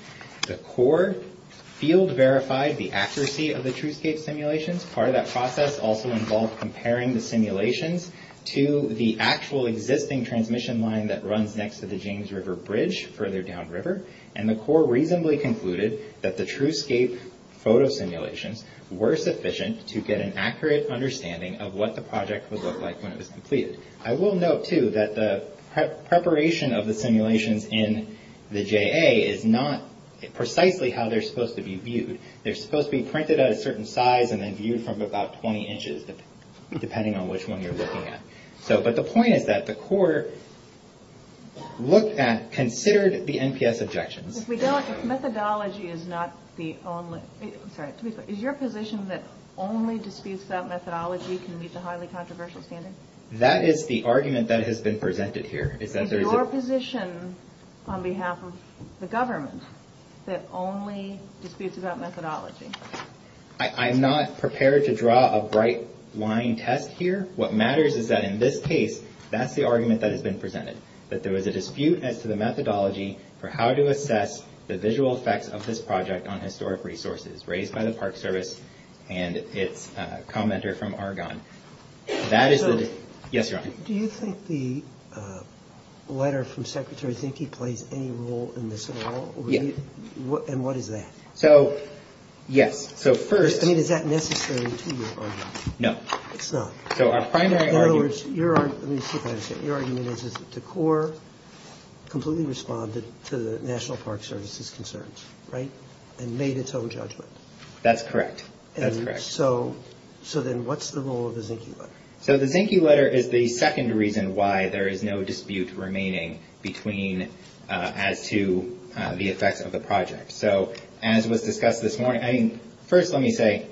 The court field verified the accuracy of the TruScape simulations. Part of that process also involves comparing the simulations to the actual existing transmission line that runs next to the James River Bridge, further downriver, and the court reasonably concluded that the TruScape photo simulations were sufficient to get an accurate understanding of what the project would look like when it was completed. I will note, too, that the preparation of the simulations in the J.A. is not precisely how they're supposed to be viewed. They're supposed to be printed at a certain size and then viewed from about 20 inches, depending on which one you're looking at. But the point is that the court considered the NPS objections. Is your position that only disputes without methodology can meet the highly controversial standard? That is the argument that has been presented here. Is your position, on behalf of the government, that only disputes without methodology? I'm not prepared to draw a bright line test here. What matters is that, in this case, that's the argument that has been presented, that there was a dispute as to the methodology for how to assess the visual effects of this project on historic resources, raised by the Park Service and its commenter from Argonne. That is the- So, do you think the letter from Secretary Zinke plays any role in this at all? Yes. And what is that? So, yes. So first- I mean, is that necessarily to your argument? No. It's not. So a primary argument- In other words, your argument is that the court completely responded to the National Park Service's concerns, right, and made its own judgment. That's correct. And so then what's the role of the Zinke letter? So the Zinke letter is the second reason why there is no dispute remaining as to the effects of the project. So, as was discussed this morning- I mean, first let me say,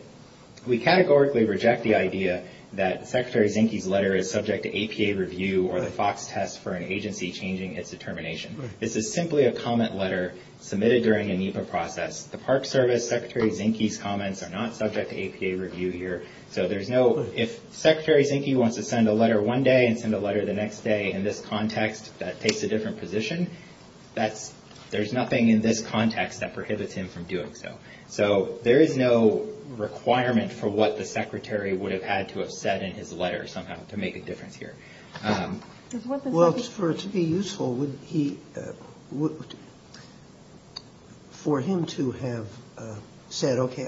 we categorically reject the idea that Secretary Zinke's letter is subject to APA review or the FOX test for an agency changing its determination. This is simply a comment letter submitted during a NEPA process. The Park Service, Secretary Zinke's comments are not subject to APA review here. So there's no- If Secretary Zinke wants to send a letter one day and send a letter the next day in this context, that takes a different position. There's nothing in this context that prohibits him from doing so. So there is no requirement for what the Secretary would have had to have said in his letter somehow to make a difference here. Well, for it to be useful, for him to have said, okay,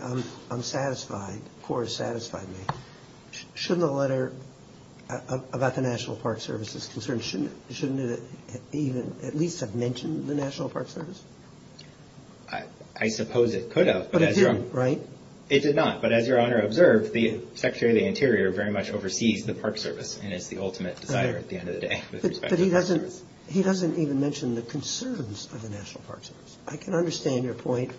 I'm satisfied, the court has satisfied me, shouldn't a letter about the National Park Service's concerns, shouldn't it at least have mentioned the National Park Service? I suppose it could have. But it didn't, right? It did not, but as Your Honor observed, the Secretary of the Interior very much oversees the Park Service and it's the ultimate desire at the end of the day. But he doesn't even mention the concerns of the National Park Service. I can understand your point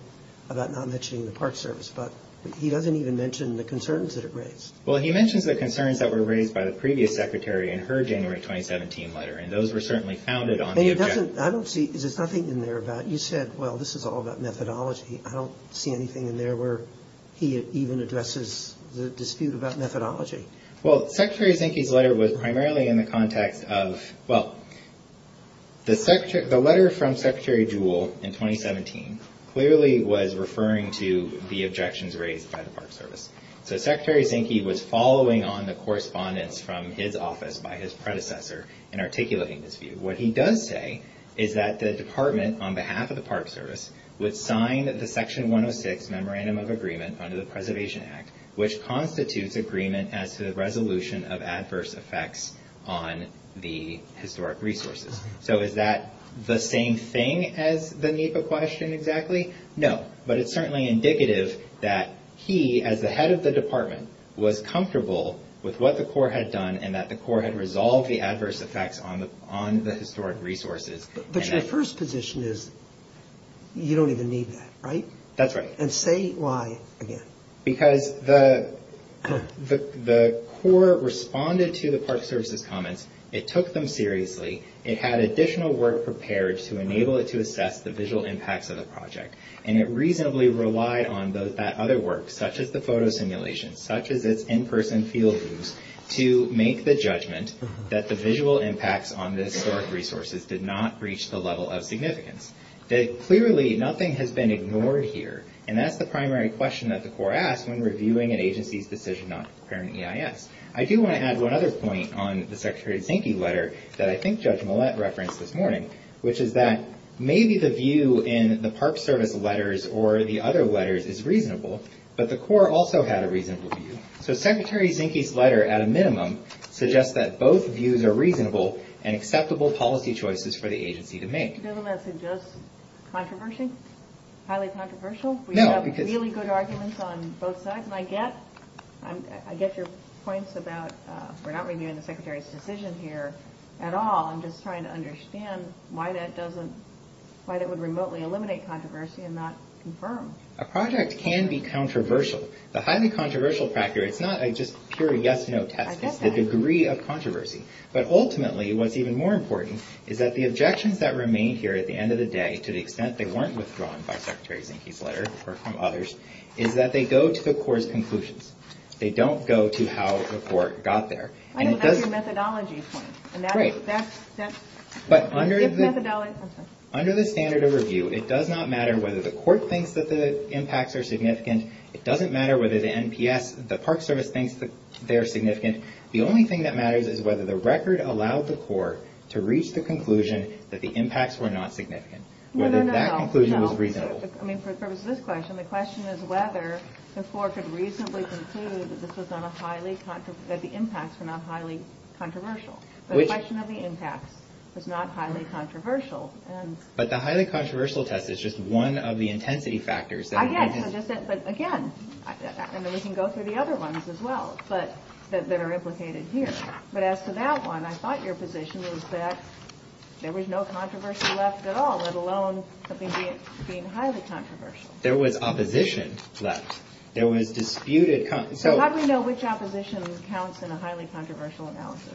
about not mentioning the Park Service, but he doesn't even mention the concerns that it raises. Well, he mentions the concerns that were raised by the previous Secretary in her January 2017 letter, and those were certainly founded on the objection. I don't see, there's nothing in there about, you said, well, this is all about methodology. I don't see anything in there where he even addresses the dispute about methodology. Well, Secretary Zinke's letter was primarily in the context of, well, the letter from Secretary Jewell in 2017 clearly was referring to the objections raised by the Park Service. So Secretary Zinke was following on the correspondence from his office by his predecessor in articulating this view. What he does say is that the Department, on behalf of the Park Service, would sign the Section 106 Memorandum of Agreement under the Preservation Act, which constitutes agreement as to the resolution of adverse effects on the historic resources. So is that the same thing as the NEPA question exactly? No, but it's certainly indicative that he, as the head of the Department, was comfortable with what the Corps had done and that the Corps had resolved the adverse effects on the historic resources. But your first position is you don't even need that, right? That's right. And say why again. Because the Corps responded to the Park Service's comments, it took them seriously, it had additional work prepared to enable it to assess the visual impacts of the project, and it reasonably relied on that other work, such as the photo simulations, such as this in-person field use, to make the judgment that the visual impacts on the historic resources did not reach the level of significance. Clearly, nothing has been ignored here, and that's the primary question that the Corps asks when reviewing an agency's decision not to prepare an EIS. I do want to add one other point on the Secretary Zinke letter that I think Judge Millett referenced this morning, which is that maybe the view in the Park Service letters or the other letters is reasonable, but the Corps also had a reasonable view. So Secretary Zinke's letter, at a minimum, suggests that both views are reasonable and acceptable policy choices for the agency to make. Doesn't that suggest controversy? Highly controversial? No. We have really good arguments on both sides, I guess. I get your points about we're not reviewing the Secretary's decision here at all. I'm just trying to understand why that would remotely eliminate controversy and not confirm. A project can be controversial. The highly controversial factor is not just a pure yes-no test. I get that. It's the degree of controversy. But ultimately, what's even more important is that the objections that remain here at the end of the day, to the extent they weren't withdrawn by Secretary Zinke's letter or from others, is that they go to the Corps' conclusions. They don't go to how the Corps got there. I know that's your methodology point. Great. But under the standard of review, it does not matter whether the Corps thinks that the impacts are significant. It doesn't matter whether the NPS, the Park Service, thinks they're significant. The only thing that matters is whether the record allowed the Corps to reach the conclusion that the impacts were not significant, whether that conclusion was reasonable. I mean, for the purpose of this question, the question is whether the Corps could reasonably conclude that the impacts were not highly controversial. The question of the impacts is not highly controversial. But the highly controversial test is just one of the intensity factors. Again, we can go through the other ones as well that are implicated here. But as to that one, I thought your position was that there was no controversy left at all, let alone something being highly controversial. There was opposition left. There was disputed- So how do we know which opposition counts in a highly controversial analysis?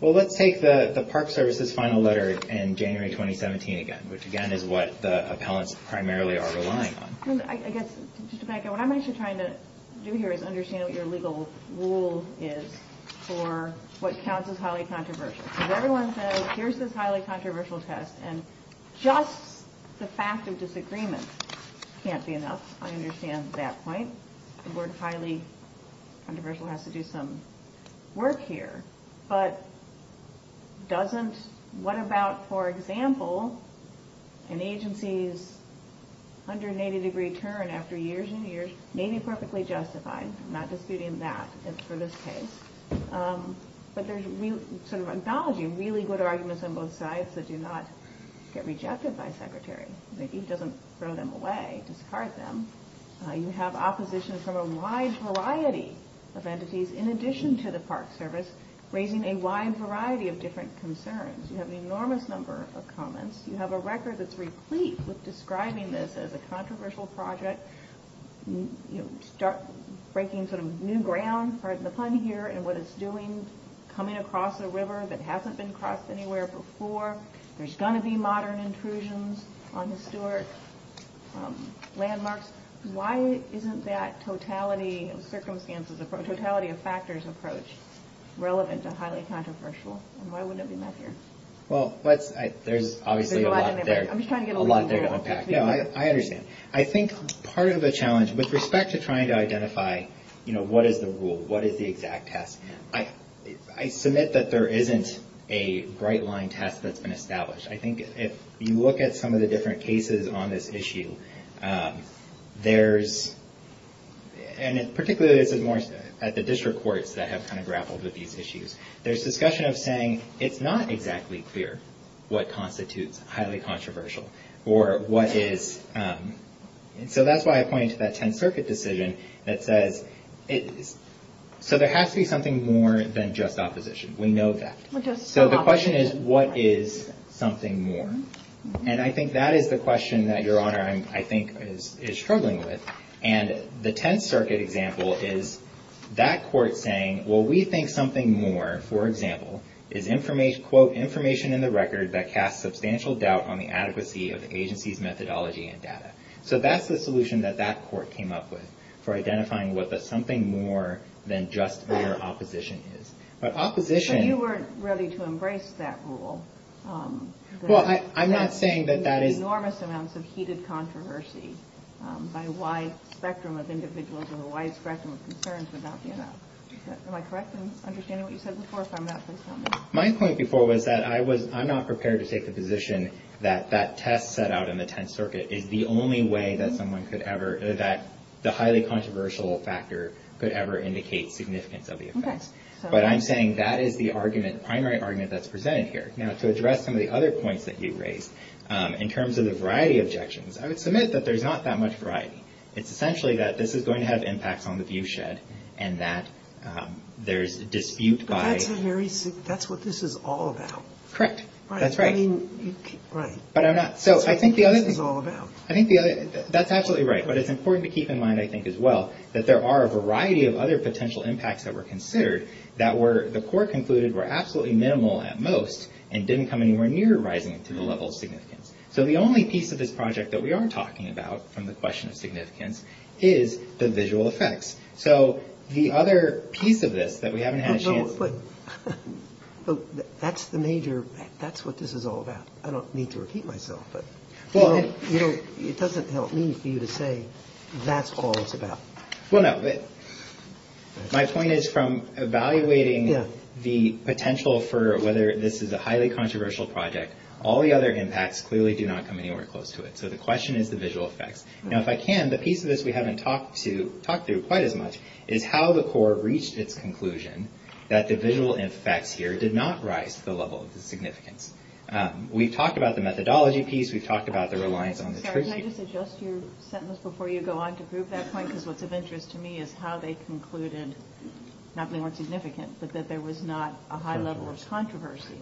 Well, let's take the Park Service's final letter in January 2017 again, which, again, is what the appellants primarily are relying on. What I'm actually trying to do here is understand what your legal rule is for what counts as highly controversial. Everyone says, here's this highly controversial test, and just the fact of disagreement can't be enough. I understand that point. The word highly controversial has to do some work here. But what about, for example, an agency's 180-degree turn after years and years? Maybe perfectly justified. I'm not disputing that. It's sort of the case. But there's sort of acknowledging really good arguments on both sides that do not get rejected by secretaries. Maybe it doesn't throw them away, discard them. You have opposition from a wide variety of entities, in addition to the Park Service, raising a wide variety of different concerns. You have an enormous number of comments. You have a record that's replete with describing this as a controversial project, breaking sort of new ground, part of the fun here in what it's doing, coming across a river that hasn't been crossed anywhere before. There's going to be modern intrusions on this door, landmarks. Why isn't that totality of circumstances, totality of factors approach relevant to highly controversial? Why wouldn't it be enough here? Well, there's obviously a lot there to unpack. I understand. I think part of the challenge, with respect to trying to identify, you know, what is the rule, what is the exact test, I submit that there isn't a right line test that's been established. I think if you look at some of the different cases on this issue, there's, and particularly this is more at the district courts that have kind of grappled with these issues, there's discussion of saying it's not exactly clear what constitutes highly controversial or what is. So that's why I point to that Tenth Circuit decision that says, so there has to be something more than just opposition. We know that. So the question is, what is something more? And I think that is the question that Your Honor, I think, is struggling with. And the Tenth Circuit example is that court saying, well, we think something more, for example, is, quote, information in the record that casts substantial doubt on the adequacy of the agency's methodology and data. So that's the solution that that court came up with for identifying what the something more than just better opposition is. But opposition- But you weren't ready to embrace that rule. Well, I'm not saying that that is- Enormous amounts of heated controversy by a wide spectrum of individuals and a wide spectrum of concerns about, you know. Am I correct in understanding what you said before? My point before was that I'm not prepared to take the position that that test set out in the Tenth Circuit is the only way that someone could ever- that the highly controversial factor could ever indicate significance of the offense. Okay. But I'm saying that is the argument, the primary argument that's presented here. Now, to address some of the other points that you raised, in terms of the variety of objections, I would submit that there's not that much variety. It's essentially that this is going to have impacts on the viewshed and that there's dispute by- That's what this is all about. Correct. That's right. Right. But I'm not- So, I think the other thing- That's what this is all about. I think the other- That's absolutely right. But it's important to keep in mind, I think, as well, that there are a variety of other potential impacts that were considered that were- the court concluded were absolutely minimal at most and didn't come anywhere near rising to the level of significance. So, the only piece of this project that we are talking about from the question of significance is the visual effects. So, the other piece of this that we haven't had a chance to- But that's the major- That's what this is all about. I don't need to repeat myself. Well- It doesn't help me for you to say that's all it's about. Well, no. My point is from evaluating the potential for whether this is a highly controversial project, all the other impacts clearly do not come anywhere close to it. So, the question is the visual effects. Now, if I can, the piece of this we haven't talked to- talked to quite as much is how the court reached its conclusion that the visual effects here did not rise to the level of significance. We've talked about the methodology piece. We've talked about the reliance on the- Can I just adjust your sentence before you go on to prove that point? Because what's of interest to me is how they concluded not only were significant, but that there was not a high level of controversy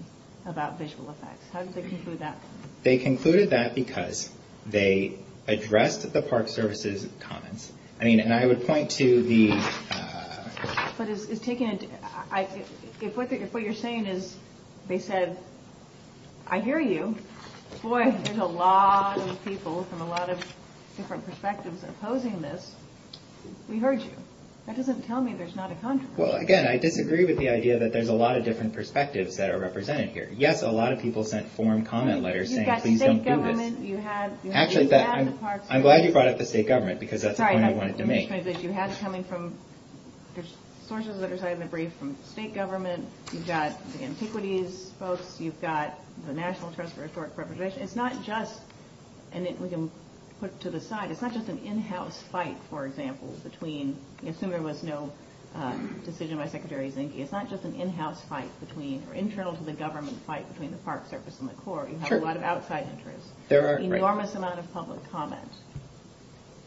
about visual effects. How did they conclude that? They concluded that because they addressed the Park Service's comments. I mean, and I would point to the- But it's taken into- If what you're saying is they said, I hear you. Boy, there's a lot of people from a lot of different perspectives opposing this. We've heard you. That doesn't tell me there's not a controversy. Well, again, I disagree with the idea that there's a lot of different perspectives that are represented here. Yes, a lot of people sent formed comment letters saying- You've got the state government. Actually, I'm glad you brought up the state government because that's the point I wanted to make. You had it coming from- There's sources that are cited in the brief from state government. You've got the antiquities folks. You've got the National Trust for Historic Preservation. It's not just- And we can put it to the side. It's not just an in-house fight, for example, between- I assume there was no decision by Secretary Zinke. It's not just an in-house fight between- or internal to the government fight between the Park Service and the Corps. You have a lot of outside interest. There are- Enormous amount of public comment.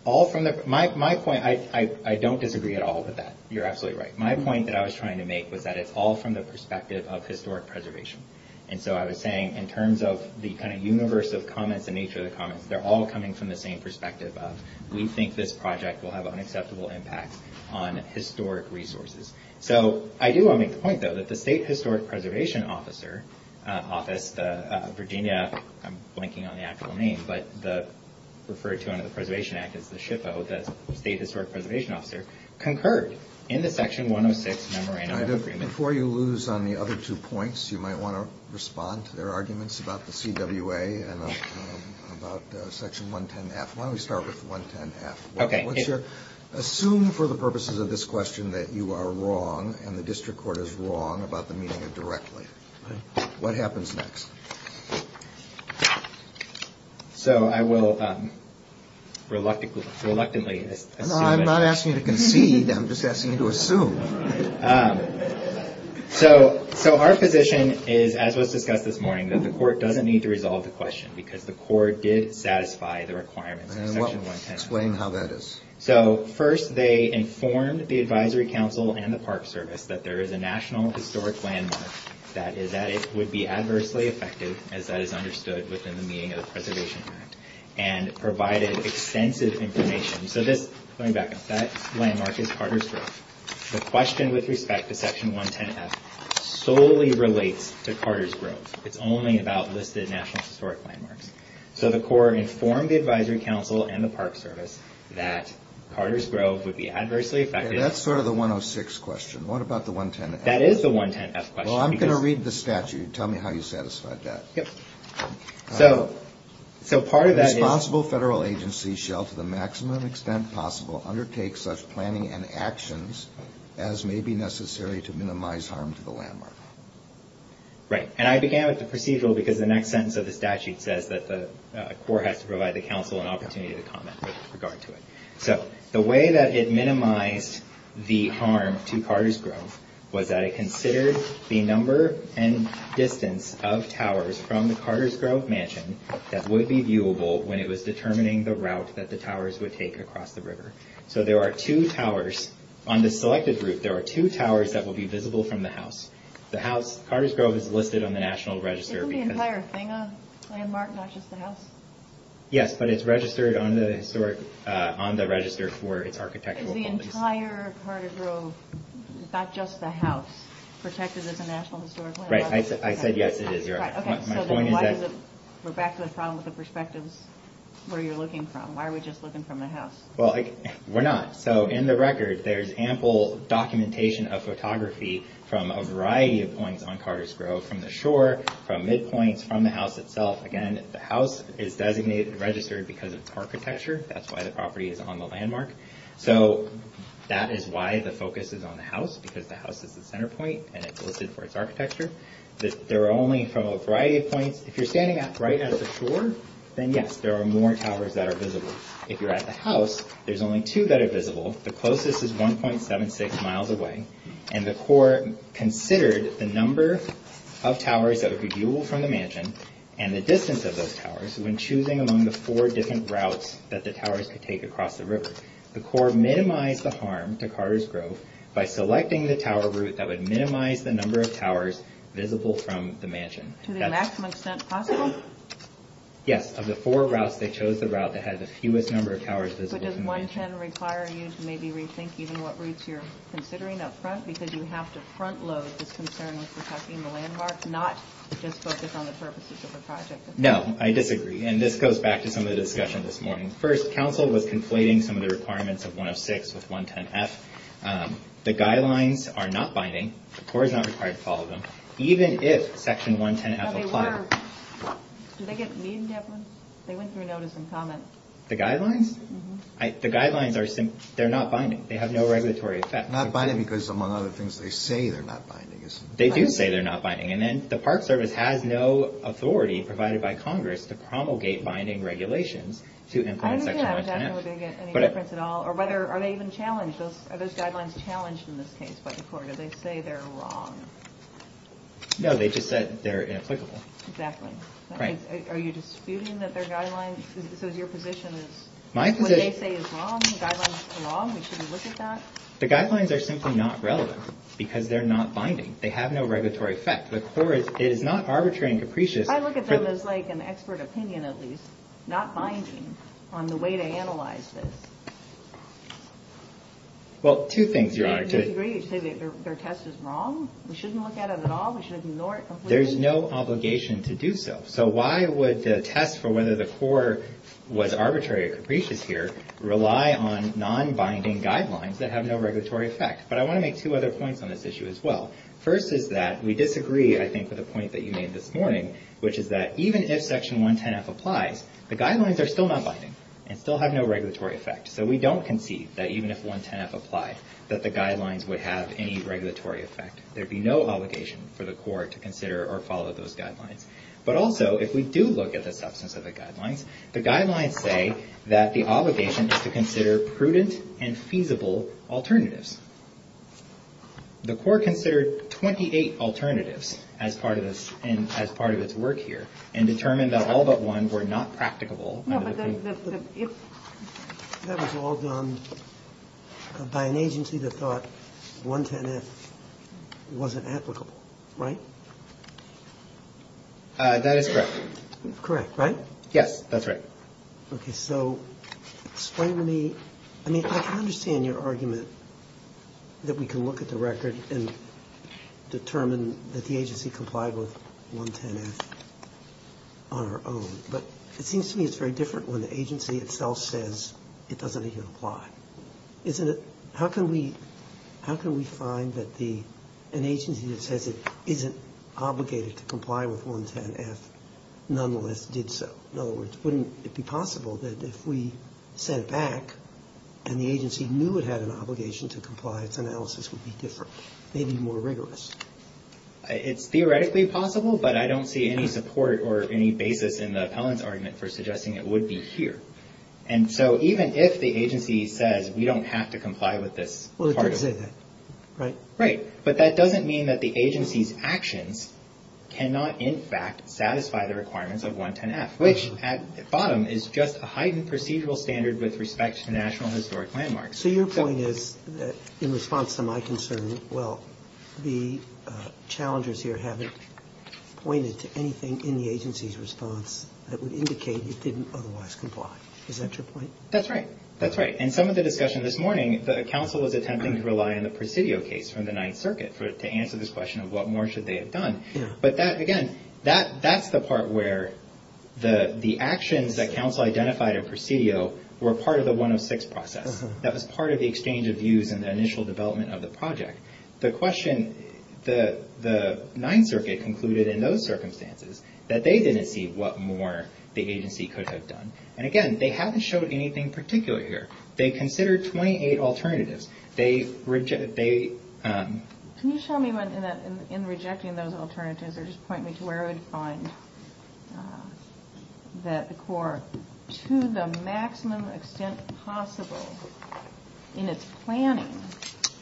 All from the- My point, I don't disagree at all with that. You're absolutely right. My point that I was trying to make was that it's all from the perspective of historic preservation. And so I was saying, in terms of the kind of universe of comments and nature of the comments, they're all coming from the same perspective of, we think this project will have an acceptable impact on historic resources. So I do want to make the point, though, that the State Historic Preservation Office, Virginia, I'm blanking on the actual name, but referred to under the Preservation Act as the SHPO, the State Historic Preservation Office, concurred in the Section 106 Memorandum- Before you lose on the other two points, you might want to respond to their arguments about the CWA and about Section 110.5. Why don't we start with 110.5? Okay. Assume for the purposes of this question that you are wrong and the district court is wrong about the meaning of directly. What happens next? So I will reluctantly- I'm not asking you to concede. I'm just asking you to assume. So our position is, as was discussed this morning, that the court doesn't need to resolve the question because the court did satisfy the requirements of Section 110.5. And how about this? So, first, they informed the Advisory Council and the Park Service that there is a National Historic Landmark that is that it would be adversely effective, as that is understood within the meaning of the Preservation Act, and provided extensive information. So this- Going back. That landmark is Carter's Grove. The question with respect to Section 110.5 solely relates to Carter's Grove. It's only about listed National Historic Landmarks. So the court informed the Advisory Council and the Park Service that Carter's Grove would be adversely effective- That's sort of the 106 question. What about the 110F? That is the 110F question. Well, I'm going to read the statute. Tell me how you satisfied that. Yep. So, part of that is- The responsible federal agency shall, to the maximum extent possible, undertake such planning and actions as may be necessary to minimize harm to the landmark. Right. And I began with the procedural because the next sentence of the statute says that the court has to provide the council an opportunity to comment with regard to it. So, the way that it minimized the harm to Carter's Grove was that it considered the number and distance of towers from the Carter's Grove mansion that would be viewable when it was determining the route that the towers would take across the river. So there are two towers. On the selected route, there are two towers that will be visible from the house. The house- Carter's Grove is listed on the National Register. Isn't the entire thing a landmark, not just the house? Yes, but it's registered on the historic- on the register for its architectural- The entire Carter's Grove, not just the house, protected as a National Historic Landmark? Right. I said yes, it is, Your Honor. Okay. We're back to the problem with the perspectives where you're looking from. Why are we just looking from the house? Well, we're not. So, in the record, there's ample documentation of photography from a variety of points on Carter's Grove, from the shore, from midpoints, from the house itself. Again, the house is designated and registered because of its architecture. That's why the property is on the landmark. So, that is why the focus is on the house, because the house is the center point and it's listed for its architecture. There are only, from a variety of points- If you're standing right at the shore, then yes, there are more towers that are visible. If you're at the house, there's only two that are visible. The closest is 1.76 miles away. And the court considered the number of towers that are visible from the mansion and the distance of those towers when choosing among the four different routes that the towers could take across the river. The court minimized the harm to Carter's Grove by selecting the tower route that would minimize the number of towers visible from the mansion. To the maximum extent possible? Yes. Of the four routes, they chose the route that has the fewest number of towers visible. But does 1.10 require you to maybe rethink even what routes you're considering up front? Because you have to front load the concern with protecting the landmark, not just focus on the purposes of the project. No, I disagree. And this goes back to some of the discussion this morning. First, council was conflating some of the requirements of 1.06 with 1.10f. The guidelines are not binding. The court does not require to follow them, even if Section 1.10f applies. Okay, what are- Did they get me in that one? They went through notice and comments. The guidelines? The guidelines are- They're not binding. They have no regulatory effect. Not binding because among other things, they say they're not binding. They do say they're not binding. And then the Park Service has no authority to promulgate binding regulations to implement Section 1.10f. I didn't realize that we were going to get any reference at all. Or whether- Are they even challenged? Are those guidelines challenged in this case by the court? Did they say they're wrong? No, they just said they're inapplicable. Exactly. Right. Are you disputing that they're guidelines? Because your position is- My position- What they say is wrong. The guidelines are wrong. We shouldn't look at that. The guidelines are simply not relevant because they're not binding. They have no regulatory effect. The court is not arbitrary and capricious. I look at them as like an expert opinion, at least. Not binding on the way they analyze this. Well, two things, Your Honor. Do you disagree? Do you say their test is wrong? We shouldn't look at it at all? We shouldn't ignore it completely? There's no obligation to do so. So why would the test for whether the court was arbitrary or capricious here rely on non-binding guidelines that have no regulatory effect? But I want to make two other points on this issue as well. First is that we disagree, I think, with the point that you made this morning, which is that even if Section 110F applies, the guidelines are still not binding and still have no regulatory effect. So we don't concede that even if 110F applies, that the guidelines would have any regulatory effect. There'd be no obligation for the court to consider or follow those guidelines. But also, if we do look at the substance of the guidelines, the guidelines say that the obligation is to consider prudent and feasible alternatives. The court considered 28 alternatives as part of its work here and determined that all but one were not practicable. No, but that was all done by an agency that thought 110F wasn't applicable, right? That is correct. That's correct, right? Yes, that's right. Okay, so explain to me... I mean, I can understand your argument that we can look at the record and determine that the agency complied with 110F on our own, but it seems to me it's very different when the agency itself says it doesn't even apply. How can we find that an agency that says it isn't obligated to comply with 110F nonetheless did so? In other words, wouldn't it be possible that if we sent back and the agency knew it had an obligation to comply, its analysis would be different, maybe more rigorous? It's theoretically possible, but I don't see any support or any basis in the opponent's argument for suggesting it would be here. And so even if the agency says we don't have to comply with this... Well, it could say that, right? Right, but that doesn't mean that the agency's actions cannot in fact satisfy the requirements of 110F, which at the bottom is just a heightened procedural standard with respect to national historic landmarks. So your point is that in response to my concern, well, the challengers here haven't pointed to anything in the agency's response that would indicate it didn't otherwise comply. Is that your point? That's right, that's right. And some of the discussion this morning, Council was attempting to rely on the Presidio case from the Ninth Circuit to answer this question of what more should they have done. But again, that's the part where the actions that Council identified at Presidio were part of the 106 process. That was part of the exchange of views in the initial development of the project. The question the Ninth Circuit concluded in those circumstances that they didn't see what more the agency could have done. And again, they haven't shown anything particular here. They considered 28 alternatives. Can you show me in rejecting those alternatives or just point me to where I would find the core to the maximum extent possible in its planning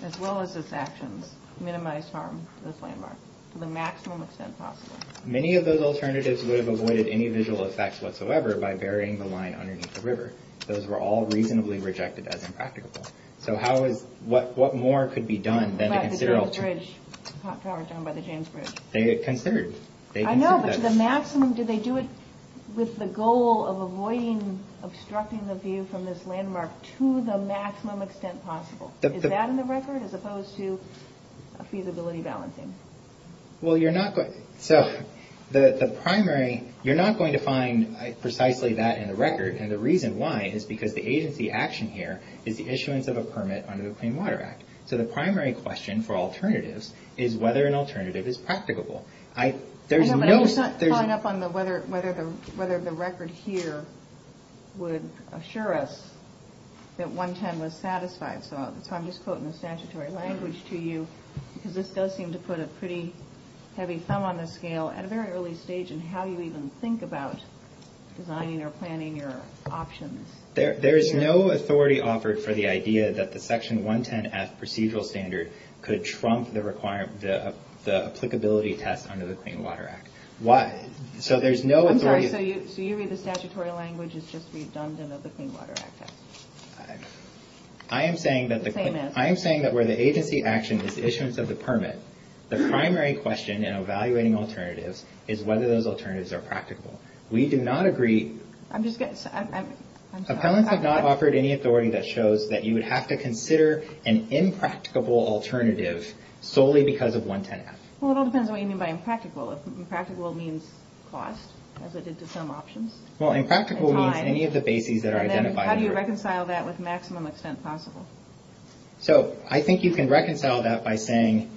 as well as its actions to minimize harm to the landmarks to the maximum extent possible? Many of those alternatives would have avoided any visual effects whatsoever by burying the line underneath the river. Those were all reasonably rejected as impractical. So what more could be done than to consider alternatives? Like the James Bridge. They considered it. I know, but to the maximum, do they do it with the goal of avoiding obstructing the view from this landmark to the maximum extent possible? Is that in the record as opposed to feasibility balancing? Well, you're not going... So the primary... You're not going to find precisely that in the record. And the reason why is because the agency action here is the issuance of a permit under the Clean Water Act. So the primary question for alternatives is whether an alternative is practicable. There's no... I'm just not following up on whether the record here would assure us that 110 was satisfied. So I'm just quoting the statutory language to you because this does seem to put a pretty heavy thumb on the scale at a very early stage in how you even think about designing or planning your options. There is no authority offered for the idea that the Section 110-F procedural standard could trump the applicability test under the Clean Water Act. Why? So there's no authority... I'm sorry, so you mean the statutory language is just redundant of the Clean Water Act? I am saying that... I am saying that where the agency action is the issuance of the permit, the primary question in evaluating alternatives is whether those alternatives are practical. We do not agree... I'm just getting... I'm sorry. Appellants have not offered any authority that shows that you would have to consider an impracticable alternative solely because of 110-F. Well, it all depends on what you mean by impractical. If impractical means cost, as it did to some options. Well, impractical means any of the bases that are identified. And then how do you reconcile that with maximum extent possible? So I think you can reconcile that by saying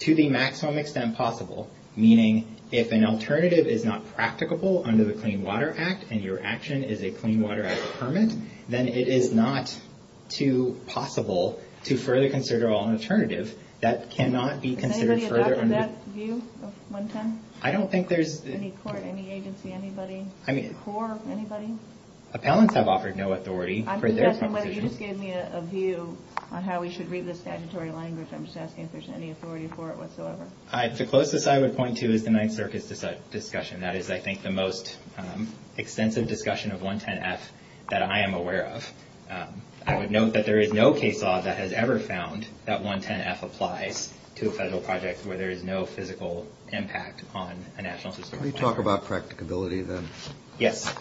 to the maximum extent possible, meaning if an alternative is not practicable under the Clean Water Act and your action is a Clean Water Act permit, then it is not too possible to further consider an alternative that cannot be considered further... Can anybody talk to that view of 110? I don't think there's... Any court, any agency, anybody? I mean... Any court, anybody? Appellants have offered no authority for this. You just gave me a view on how we should read the statutory language. I'm just asking if there's any authority for it whatsoever. All right. The closest I would point to is the Ninth Circuit's discussion. That is, I think, the most extensive discussion of 110-F that I am aware of. I would note that there is no case law that has ever found that 110-F applies to a federal project where there is no physical impact on a national system. Can we talk about practicability, then? Yes.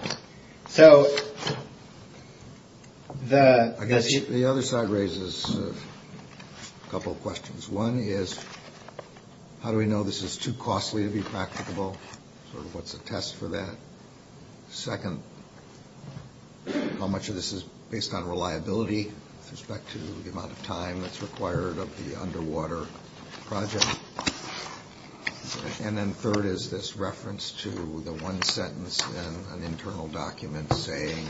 So... I guess the other side raises a couple of questions. One is... How do we know this is too costly to be practicable? What's the test for that? Second... How much of this is based on reliability with respect to the amount of time that's required of the underwater project? And then third is this reference to the one sentence in an internal document saying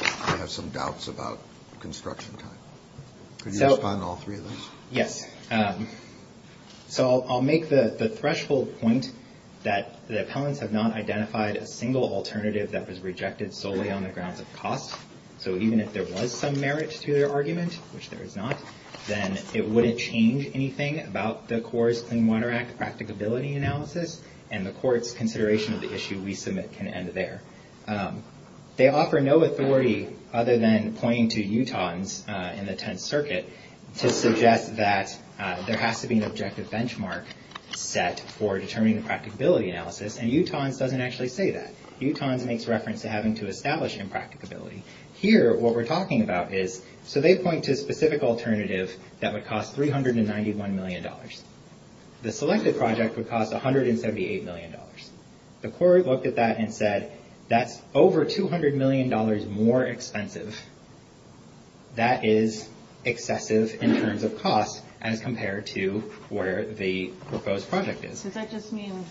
I have some doubts about construction time. Could you respond to all three of those? Yes. So I'll make the threshold point that the appellants have not identified a single alternative that was rejected solely on the grounds of cost. So even if there was some merit to their argument, which there is not, then it wouldn't change anything about the Corps' Clean Water Act practicability analysis and the Corps' consideration of the issue we submit can end there. They offer no authority other than pointing to Utahns in the Tenth Circuit to suggest that there has to be an objective benchmark set for determining practicability analysis, and Utahns doesn't actually say that. Utahns makes reference to having to establish impracticability. Here, what we're talking about is... So they point to a specific alternative that would cost $391 million. The selected project would cost $178 million. The Corps looked at that and said that's over $200 million more expensive. That is excessive in terms of cost as compared to where the proposed project is. So that just means...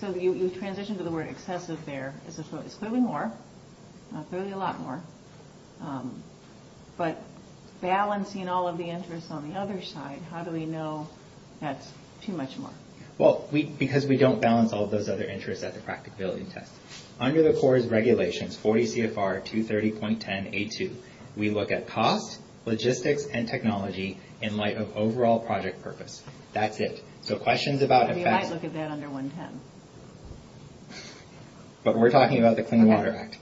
So you transitioned to the word excessive there. This is what is clearly more, clearly a lot more. But balancing all of the interest on the other side, how do we know that's too much more? Well, because we don't balance all of those other interests at the practicability test. Under the Corps' regulations, 40 CFR 230.10A2, we look at cost, logistics, and technology in light of overall project purpose. That's it. So questions about... We might look at that under 110. But we're talking about the Clean Water Act.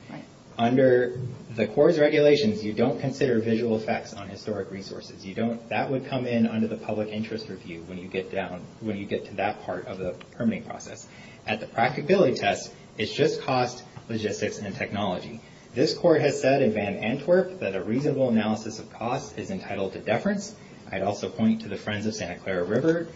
Under the Corps' regulations, you don't consider visual effects on historic resources. That would come in under the public interest review when you get to that part of the permitting process. At the practicability test, it's just cost, logistics, and technology. This Court has said in Van Antwerp that a reasonable analysis of cost is entitled to deference. I'd also point to the Friends of Santa Clara River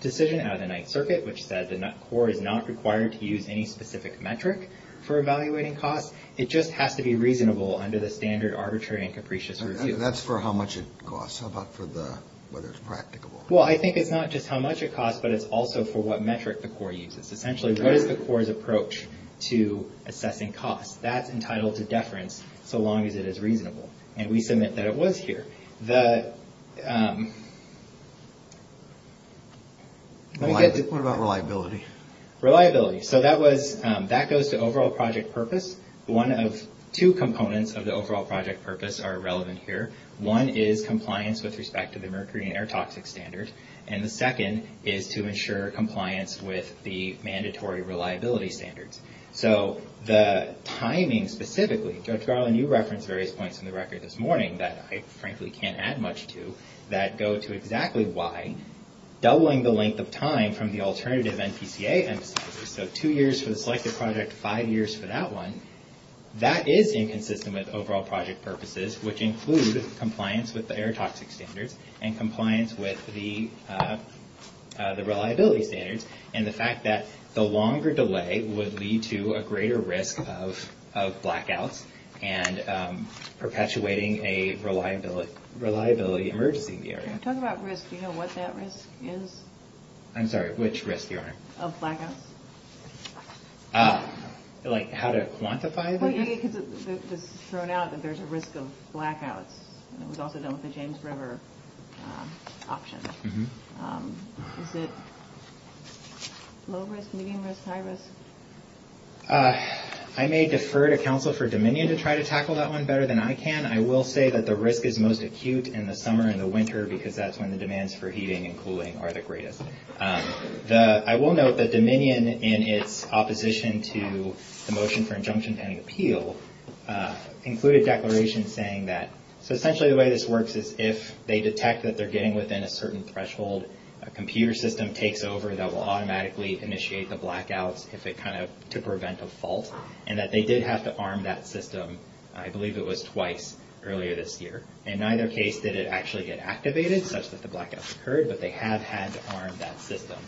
decision out of the Ninth Circuit, which says the Corps is not required to use any specific metric for evaluating cost. It just has to be reasonable under the standard arbitrary and capricious review. That's for how much it costs. How about for the... whether it's practicable? Well, I think it's not just how much it costs, but it's also for what metric the Corps uses. Essentially, what is the Corps' approach to assessing cost? That's entitled to deference so long as it is reasonable, and we submit that it was here. The, um... What about reliability? Reliability. So that was... that goes to overall project purpose. One of two components of the overall project purpose are relevant here. One is compliance with respect to the mercury and air toxic standards, and the second is to ensure compliance with the mandatory reliability standards. So the timing specifically... Judge Garland, you referenced various points in the record this morning that I frankly can't add much to that go to exactly why doubling the length of time from the alternative NPCA... so two years for the selected project, five years for that one, that is inconsistent with overall project purposes, which includes compliance with the air toxic standards and compliance with the reliability standards and the fact that the longer delay would lead to a greater risk of blackouts and perpetuating a reliability emergency in the area. Talk about risk. Do you know what that risk is? I'm sorry. Which risk, Your Honor? Of blackouts. Ah. Like how to quantify the... Well, because it's shown out that there's a risk of blackouts. It was also done with the James River option. Mm-hmm. Um, is it... I may defer to counsel for Dominion to try to tackle that one better than I can. I will say that the risk is most acute in the summer and the winter because that's when the demands for heating and cooling are the greatest. Um, the... I will note that Dominion, in its opposition to the motion for injunction-paying appeal, included declarations saying that... so essentially the way this works is if they detect that they're getting within a certain threshold, a computer system takes over that will automatically initiate the blackouts if it kind of... to prevent a fault, and that they did have to arm that system, I believe it was twice earlier this year. In either case, did it actually get activated? That's what the blackouts occurred, but they have had to arm that system.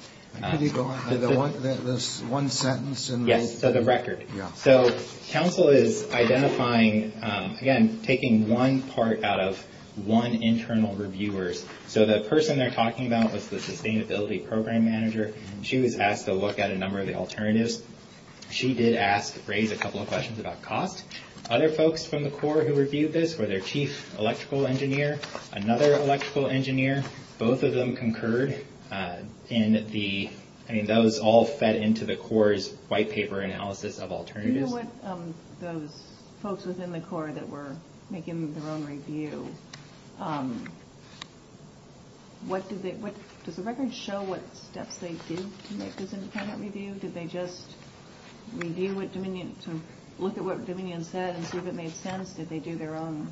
Could you go on? There's one sentence in the... Yes, so the record. Yeah. So counsel is identifying, um, again, taking one part out of one internal reviewer. So the person they're talking about was the sustainability program manager. She was asked to look at a number of the alternatives. She did ask... raise a couple of questions about cost. Other folks from the Corps who reviewed this were their chief electrical engineer, another electrical engineer. Both of them concurred, uh, in the... I mean, that was all fed into the Corps' white paper analysis of alternatives. Do you know what, um, the folks within the Corps that were making their own review, um... What did they... Did the record show what steps they did to make this independent review? Did they just review what Dominion... to look at what Dominion said and see if it made sense? Did they do their own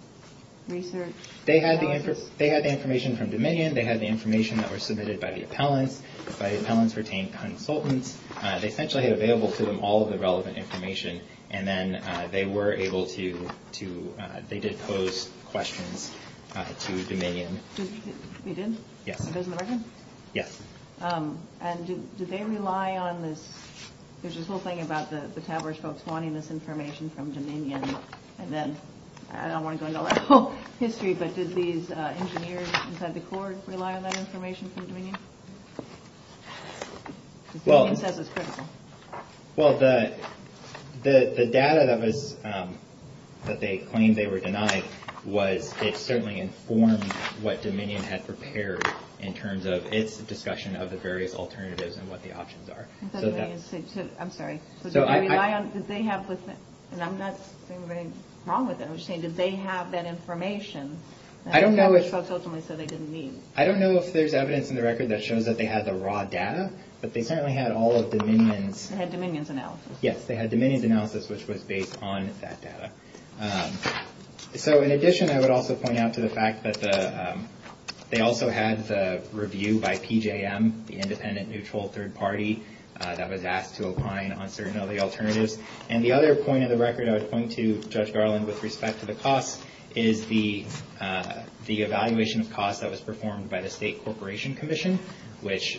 research? They had the information from Dominion. They had the information that was submitted by the appellant. By the appellant's retained consultants. They essentially had available to them all of the relevant information, and then they were able to... they did pose questions to Dominion. You did? Yeah. It was in the record? Yes. Um, and did they rely on the... There's this whole thing about the TAVR folks wanting this information from Dominion, and then... I don't want to go into all that whole history, but did these, uh, engineers inside the Corps rely on that information from Dominion? Well... Because Dominion says it's critical. Well, the... the data that was, um... that they claimed they were denied was... it certainly informed what Dominion had prepared in terms of its discussion of the various alternatives and what the options are. I'm sorry. Did they rely on... did they have... and I'm not saying they were wrong with it, I'm just saying, did they have that information? I don't know if... That was ultimately so they didn't need. I don't know if there's evidence in the record that shows that they had the raw data, but they apparently had all of Dominion's... They had Dominion's analysis. Yes, they had Dominion's analysis, which was based on that data. So, in addition, I would also point out to the fact that the... they also had the review by PJM, the Independent Neutral Third Party, that was asked to opine on certain of the alternatives. And the other point of the record I was pointing to, Judge Garland, with respect to the costs, is the, uh... the evaluation of costs that was performed by the State Corporation Commission, which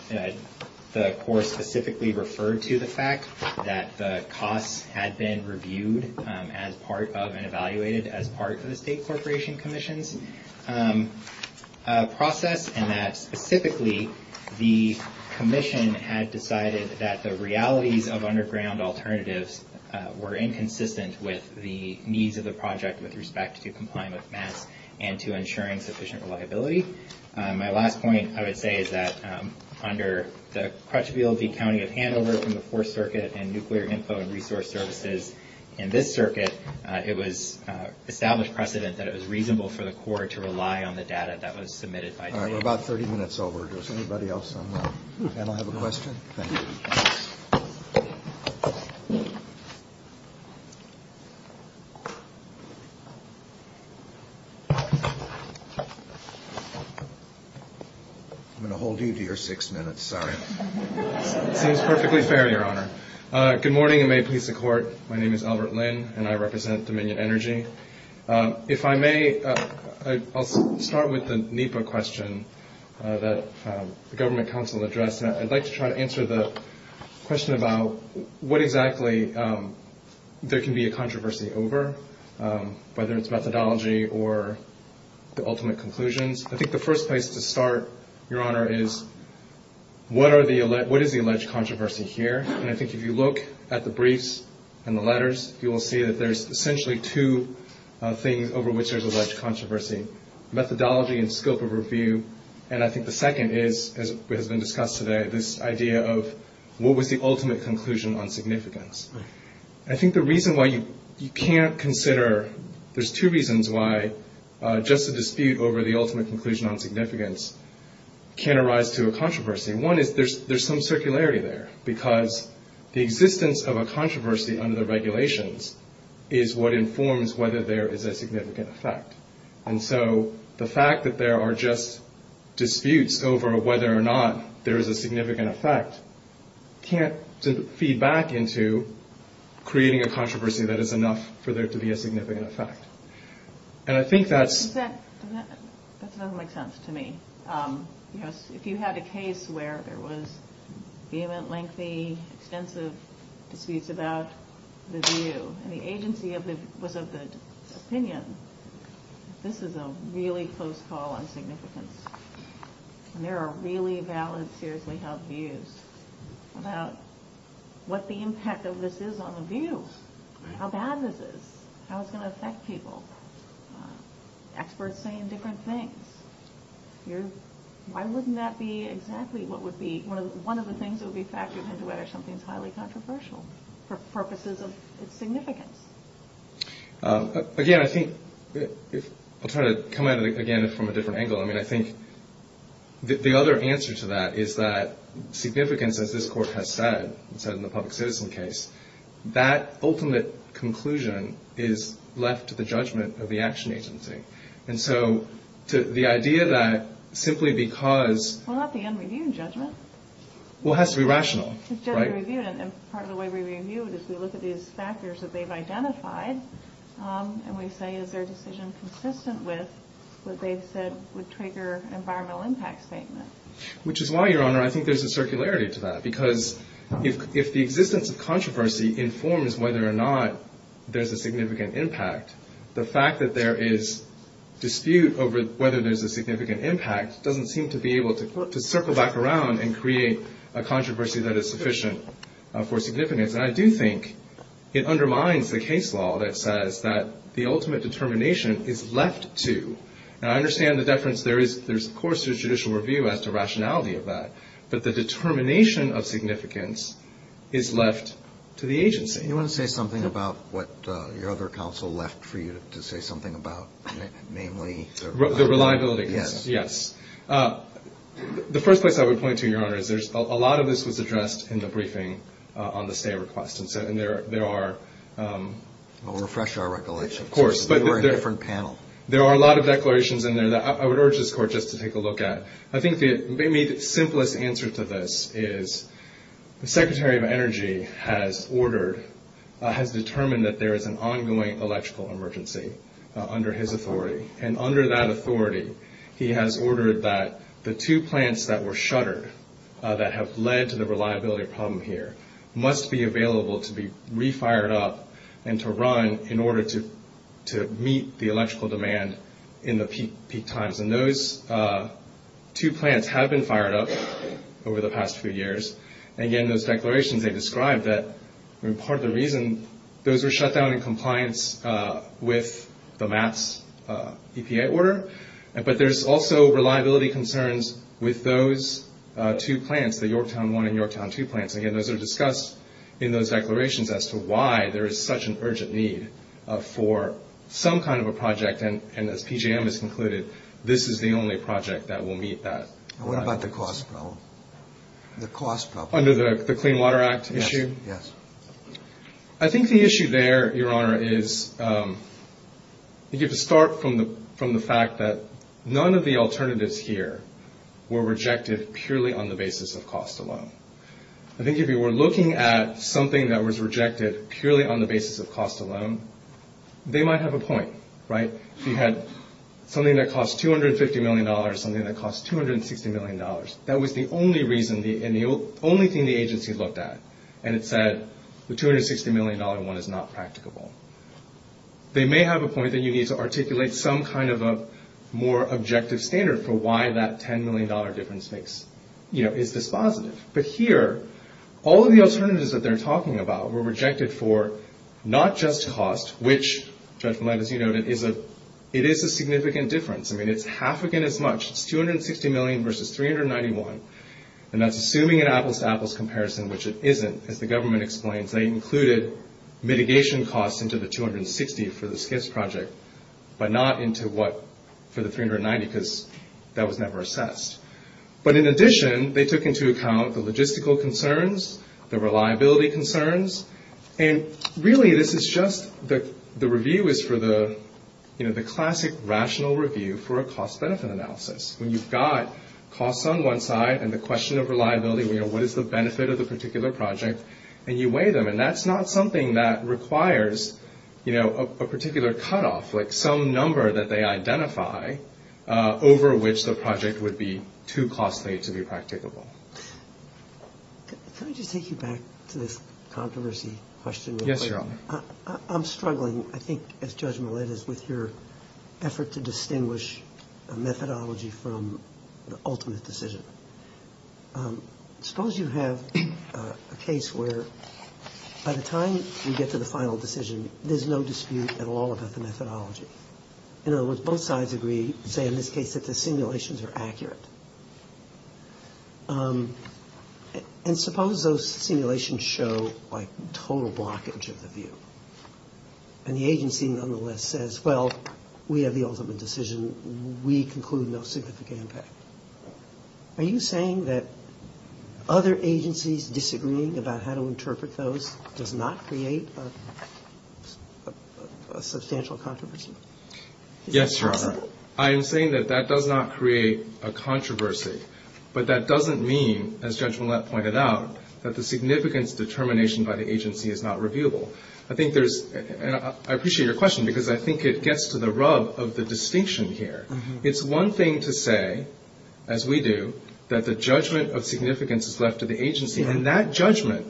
the Corps specifically referred to the fact that the costs had been reviewed as part of and evaluated as part of the State Corporation Commission's process and that, specifically, the Commission had decided that the realities of underground alternatives were inconsistent with the needs of the project with respect to complying with MAS and to ensuring sufficient reliability. My last point, I would say, is that under the credibility accounting of handovers from the Fourth Circuit and Nuclear Info and Resource Services in this circuit, it was established precedent that it was reasonable for the Corps to rely on the data that was submitted by... All right, we're about 30 minutes over. Does anybody else have a question? I'm going to hold you to your six minutes, sorry. It is perfectly fair, Your Honor. Good morning and may it please the Court. My name is Albert Lin and I represent Dominion Energy. If I may, I'll start with the NEPA question that the Government Counsel addressed. I'd like to try to answer the question about what exactly there can be a controversy over, whether it's methodology or the ultimate conclusions. I think the first place to start, Your Honor, is what is the alleged controversy here? And I think if you look at the briefs and the letters, you will see that there's essentially two things over which there's alleged controversy, methodology and scope of review, and I think the second is, as has been discussed today, this idea of what was the ultimate conclusion on significance. I think the reason why you can't consider... There's two reasons why just a dispute over the ultimate conclusion on significance can arise to a controversy. One is there's some circularity there because the existence of a controversy under the regulations is what informs whether there is a significant effect. And so the fact that there are just disputes over whether or not there is a significant effect can't feed back into creating a controversy that is enough for there to be a significant effect. And I think that... That doesn't make sense to me. If you had a case where there was vehement, lengthy, extensive disputes about the view and the agency was of the opinion that this is a really close call on significance and there are really valid, seriously held views about what the impact of this is on the view, how bad this is, how it's going to affect people. Experts saying different things. Why wouldn't that be exactly what would be... One of the things that would be factored into it is something highly controversial for purposes of significance. Again, I think... I'll try to come at it again from a different angle. I mean, I think the other answer to that is that significance, as this Court has said, said in the public citizen case, that ultimate conclusion is left to the judgment of the action agency. And so the idea that simply because... Well, not the end review judgment. Well, it has to be rational, right? It's just the review. And part of the way we review is we look at these factors that they've identified and we say is their decision consistent with what they've said would trigger environmental impact statements. Which is why, Your Honor, I think there's a circularity to that because if the existence of controversy informs whether or not there's a significant impact, the fact that there is dispute over whether there's a significant impact doesn't seem to be able to circle back around and create a controversy that is sufficient for significance. And I do think it undermines the case law that says that the ultimate determination is left to. And I understand the deference there is, of course, to judicial review as to rationality of that. But the determination of significance is left to the agency. Do you want to say something about what your other counsel left for you to say something about, namely? The reliability, yes, yes. The first place I would point to, Your Honor, is a lot of this was addressed in the briefing on the stay request. And there are... I'll refresh our recollection. Of course, but there are a lot of declarations in there that I would urge this Court just to take a look at. I think the simplest answer to this is the Secretary of Energy has ordered, has determined that there is an ongoing electrical emergency under his authority. And under that authority, he has ordered that the two plants that were shuttered that have led to the reliability problem here must be available to be re-fired up and to run in order to meet the electrical demand in the peak times. And those two plants have been fired up over the past few years. Again, those declarations, they describe that part of the reason those were shut down in compliance with the MAPS EPA order. But there's also reliability concerns with those two plants, the Yorktown I and Yorktown II plants. Again, those are discussed in those declarations as to why there is such an urgent need for some kind of a project. And as PJM has concluded, this is the only project that will meet that. What about the cost problem? Under the Clean Water Act issue? Yes. I think the issue there, Your Honor, is you get to start from the fact that none of the alternatives here were rejected purely on the basis of cost alone. I think if you were looking at something that was rejected purely on the basis of cost alone, they might have a point, right? You had something that cost $250 million, something that cost $260 million. That was the only reason and the only thing the agency looked at. And it said the $260 million one is not practicable. They may have a point that you need to articulate some kind of a more objective standard for why that $10 million difference makes, you know, is this positive. But here, all of the alternatives that they're talking about were rejected for not just cost, which, Judge Millett, as you noted, it is a significant difference. I mean, it's half again as much. It's $260 million versus $391 million. And that's assuming an apples-to-apples comparison, which it isn't, as the government explains. They included mitigation costs into the $260 million for the SCIS project, but not into what for the $390 million because that was never assessed. But in addition, they took into account the logistical concerns, the reliability concerns, and really this is just the review is for the, you know, the classic rational review for a cost-benefit analysis. When you've got costs on one side and the question of reliability, you know, what is the benefit of the particular project, and you weigh them, and that's not something that requires, you know, a particular cutoff, like some number that they identify over which the project would be too costly to be practicable. Can I just take you back to this controversy question? Yes, Your Honor. I'm struggling, I think, as Judge Millett is, with your effort to distinguish a methodology from the ultimate decision. Suppose you have a case where by the time you get to the final decision, there's no dispute at all about the methodology. In other words, both sides agree, say in this case that the simulations are accurate. And suppose those simulations show like total blockage of the view, and the agency nonetheless says, well, we have the ultimate decision, we conclude no significant impact. Are you saying that other agencies disagreeing about how to interpret those does not create a substantial controversy? Yes, Your Honor. I am saying that that does not create a controversy, but that doesn't mean, as Judge Millett pointed out, that the significance determination by the agency is not reviewable. I think there's, and I appreciate your question, because I think it gets to the rub of the distinction here. It's one thing to say, as we do, that the judgment of significance is left to the agency, and that judgment,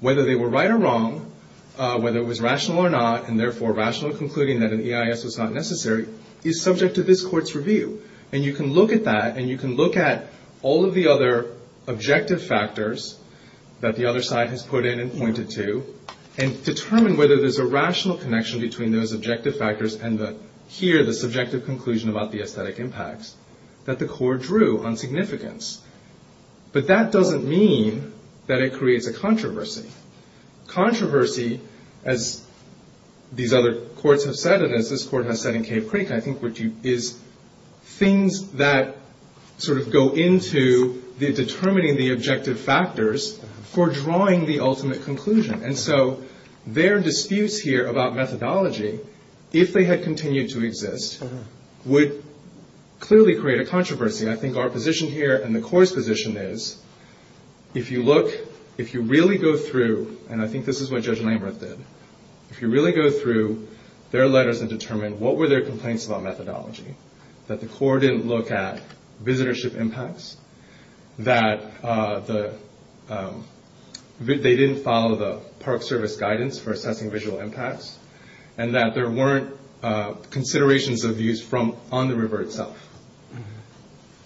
whether they were right or wrong, whether it was rational or not, and therefore rational in concluding that an EIS was not necessary, is subject to this Court's review. And you can look at that, and you can look at all of the other objective factors that the other side has put in and pointed to, and determine whether there's a rational connection between those objective factors and here, this objective conclusion about the aesthetic impact that the Court drew on significance. But that doesn't mean that it creates a controversy. Controversy, as these other courts have said, and as this Court has said in Cape Creek, I think, is things that sort of go into determining the objective factors for drawing the ultimate conclusion. And so their disputes here about methodology, if they had continued to exist, would clearly create a controversy. I think our position here, and the Court's position is, if you look, if you really go through, and I think this is what Judge Lambert did, if you really go through their letters and determine what were their complaints about methodology, that the Court didn't look at visitorship impacts, that they didn't follow the Park Service guidance for assessing visual impacts, and that there weren't considerations of views from on the river itself.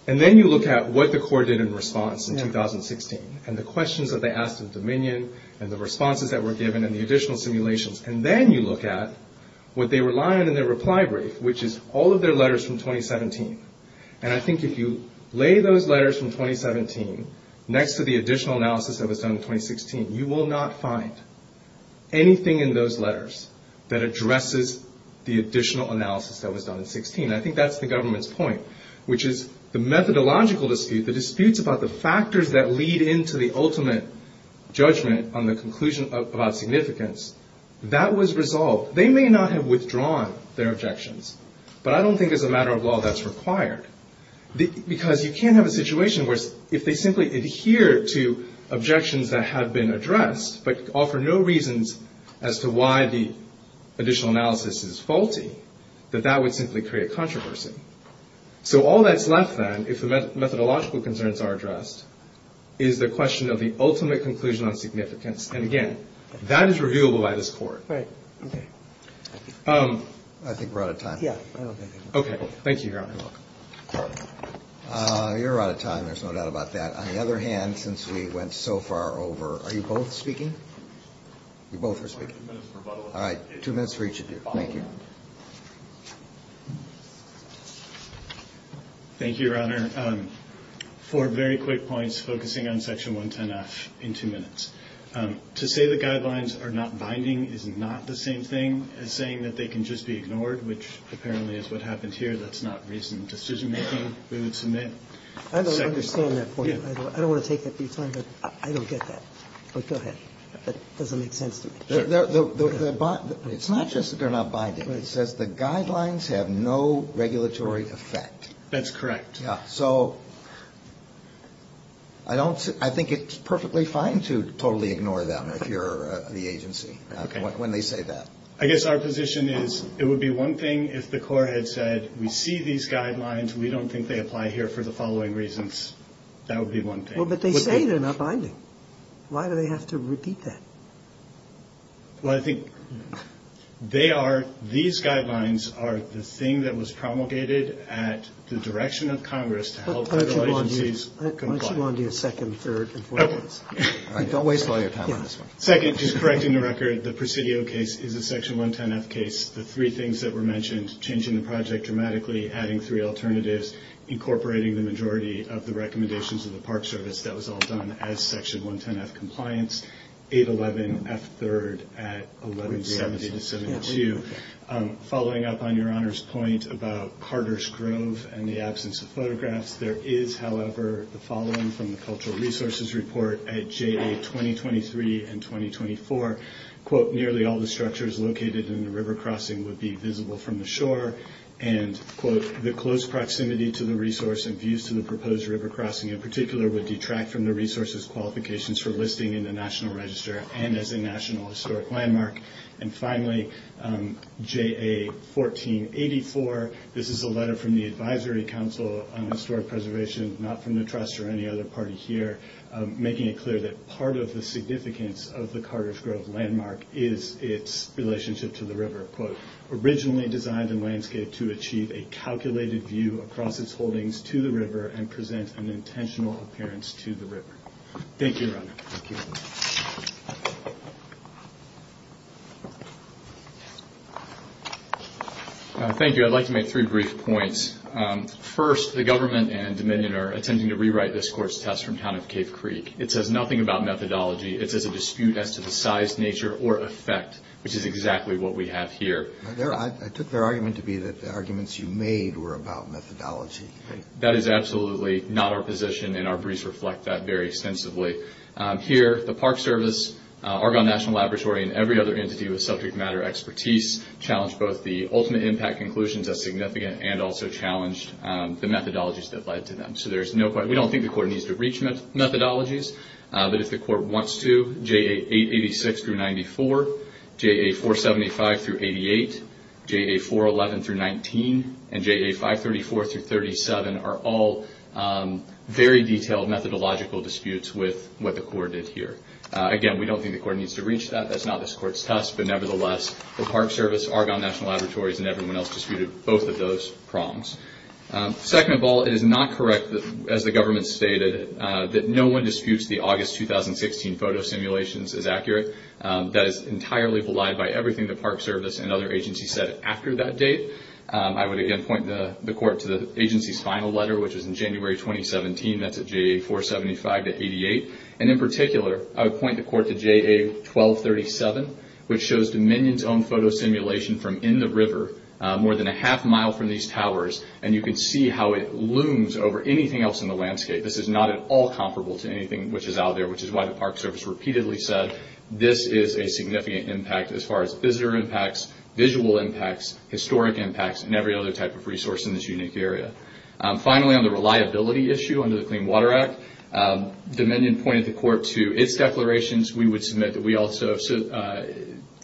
And then you look at what the Court did in response in 2016, and the questions that they asked of Dominion, and the responses that were given, and the additional simulations. And then you look at what they relied on in their reply brief, which is all of their letters from 2017. And I think if you lay those letters from 2017 next to the additional analysis that was done in 2016, you will not find anything in those letters that addresses the additional analysis that was done in 2016. I think that's the government's point, which is the methodological dispute, the disputes about the factors that lead into the ultimate judgment on the conclusion of significance, that was resolved. They may not have withdrawn their objections, but I don't think as a matter of law that's required. Because you can't have a situation where, if they simply adhere to objections that have been addressed, but offer no reasons as to why the additional analysis is faulty, that that would simply create controversy. So all that's left then, if the methodological concerns are addressed, is the question of the ultimate conclusion on significance. And again, that is reviewable by this court. Right. I think we're out of time. Okay. Thank you, Your Honor. You're welcome. You're out of time, there's no doubt about that. On the other hand, since we went so far over, are you both speaking? You both are speaking. All right, two minutes for each of you. Thank you. Thank you, Your Honor. Four very quick points focusing on Section 110-F in two minutes. To say the guidelines are not binding is not the same thing as saying that they can just be ignored, which apparently is what happens here. That's not reasonable decision-making. I don't understand that point. I don't want to take it. I don't get that. Go ahead. It doesn't make sense to me. It's not just that they're not binding. It says the guidelines have no regulatory effect. That's correct. Yeah, so I think it's perfectly fine to totally ignore them if you're the agency when they say that. I guess our position is it would be one thing if the court had said, we see these guidelines, we don't think they apply here for the following reasons. That would be one thing. But they say they're not binding. Why do they have to repeat that? Well, I think they are, these guidelines are the thing that was promulgated at the direction of Congress to help the licensees comply. Why don't you go on to your second, third, and fourth? Don't waste all your time on this one. Second, just correcting the record, the Presidio case is a Section 110-F case. The three things that were mentioned, changing the project dramatically, adding three alternatives, incorporating the majority of the recommendations of the Park Service, that was all done as Section 110-F compliance, 811 F-3rd at 1170-72. Thank you. Following up on your Honor's point about Carter Strove and the absence of photographs, there is, however, the following from the Cultural Resources Report at JA 2023 and 2024. Quote, nearly all the structures located in the river crossing would be visible from the shore. And, quote, the close proximity to the resource and views to the proposed river crossing in particular would detract from the resource's qualifications for listing in the National Register and as a National Historic Landmark. And finally, JA 1484, this is a letter from the Advisory Council on Historic Preservation, not from the Trust or any other party here, making it clear that part of the significance of the Carter Strove landmark is its relationship to the river. Quote, originally designed in landscape to achieve a calculated view across its holdings to the river and present an intentional appearance to the river. Thank you, Your Honor. Thank you. Thank you. I'd like to make three brief points. First, the government and Dominion are attempting to rewrite this court's test from the town of Cape Creek. It says nothing about methodology. It says a dispute as to the size, nature, or effect, which is exactly what we have here. I took their argument to be that the arguments you made were about methodology. That is absolutely not our position, and our briefs reflect that very extensively. Here, the Park Service, Argonne National Laboratory, and every other entity with subject matter expertise challenge both the ultimate impact conclusions as significant and also challenge the methodologies that led to them. We don't think the court needs to reach methodologies, but if the court wants to, JA 886 through 94, JA 475 through 88, JA 411 through 19, and JA 534 through 37 are all very detailed methodological disputes with what the court did here. Again, we don't think the court needs to reach that. That's not this court's test, but nevertheless, the Park Service, Argonne National Laboratory, and everyone else disputed both of those prongs. Second of all, it is not correct, as the government stated, that no one disputes the August 2016 photo simulations as accurate. That is entirely belied by everything the Park Service and other agencies said after that date. I would again point the court to the agency's final letter, which was in January 2017, that's at JA 475 to 88, and in particular, I would point the court to JA 1237, which shows Dominion's own photo simulation from in the river, more than a half mile from these towers, and you can see how it looms over anything else in the landscape. This is not at all comparable to anything which is out there, which is why the Park Service repeatedly said this is a significant impact as far as visitor impacts, visual impacts, historic impacts, and every other type of resource in this unique area. Finally, on the reliability issue under the Clean Water Act, Dominion pointed the court to its declarations. We would submit that we also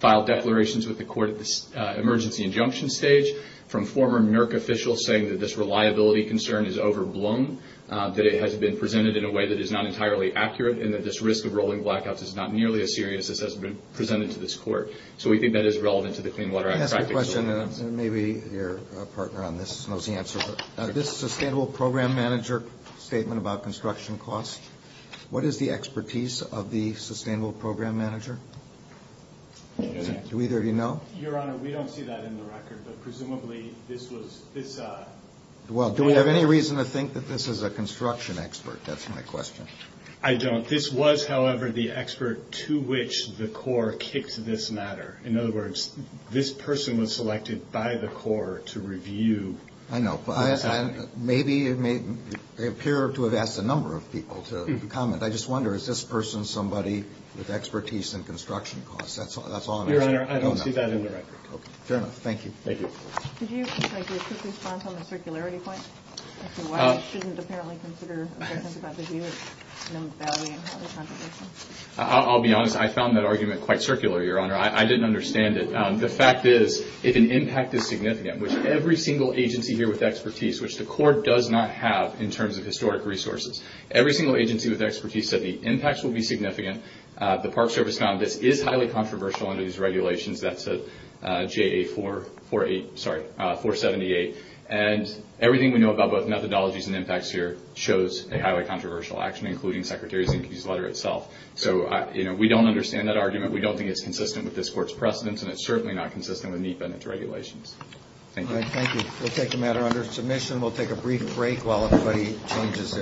filed declarations with the court at this emergency injunction stage from former NERC officials saying that this reliability concern is overblown, that it has been presented in a way that is not entirely accurate, and that this risk of rolling blackouts is not nearly as serious as has been presented to this court. So we think that is relevant to the Clean Water Act. I have a question, and maybe your partner on this knows the answer. This sustainable program manager statement about construction costs, what is the expertise of the sustainable program manager? Do either of you know? Your Honor, we don't see that in the record, but presumably this was... Well, do we have any reason to think that this is a construction expert? That's my question. I don't. This was, however, the expert to which the court kicked this matter. In other words, this person was selected by the court to review... I know. Maybe it may appear to have asked a number of people to comment. I just wonder, is this person somebody with expertise in construction costs? That's all I know. Your Honor, I don't see that in the record. Thank you. Thank you. I'll be honest. I found that argument quite circular, Your Honor. I didn't understand it. The fact is, if an impact is significant, there's every single agency here with expertise, which the court does not have in terms of historic resources. Every single agency with expertise said the impacts would be significant. The Park Service found this is highly controversial under these regulations. That's JA-478. And everything we know about both methodologies and impacts here shows a highly controversial action, including Secretary Lincoln's letter itself. So we don't understand that argument. We don't think it's consistent with this court's precedents, and it's certainly not consistent with these benefits regulations. Thank you. We'll take the matter under submission. We'll take a brief break while everybody changes their chairs.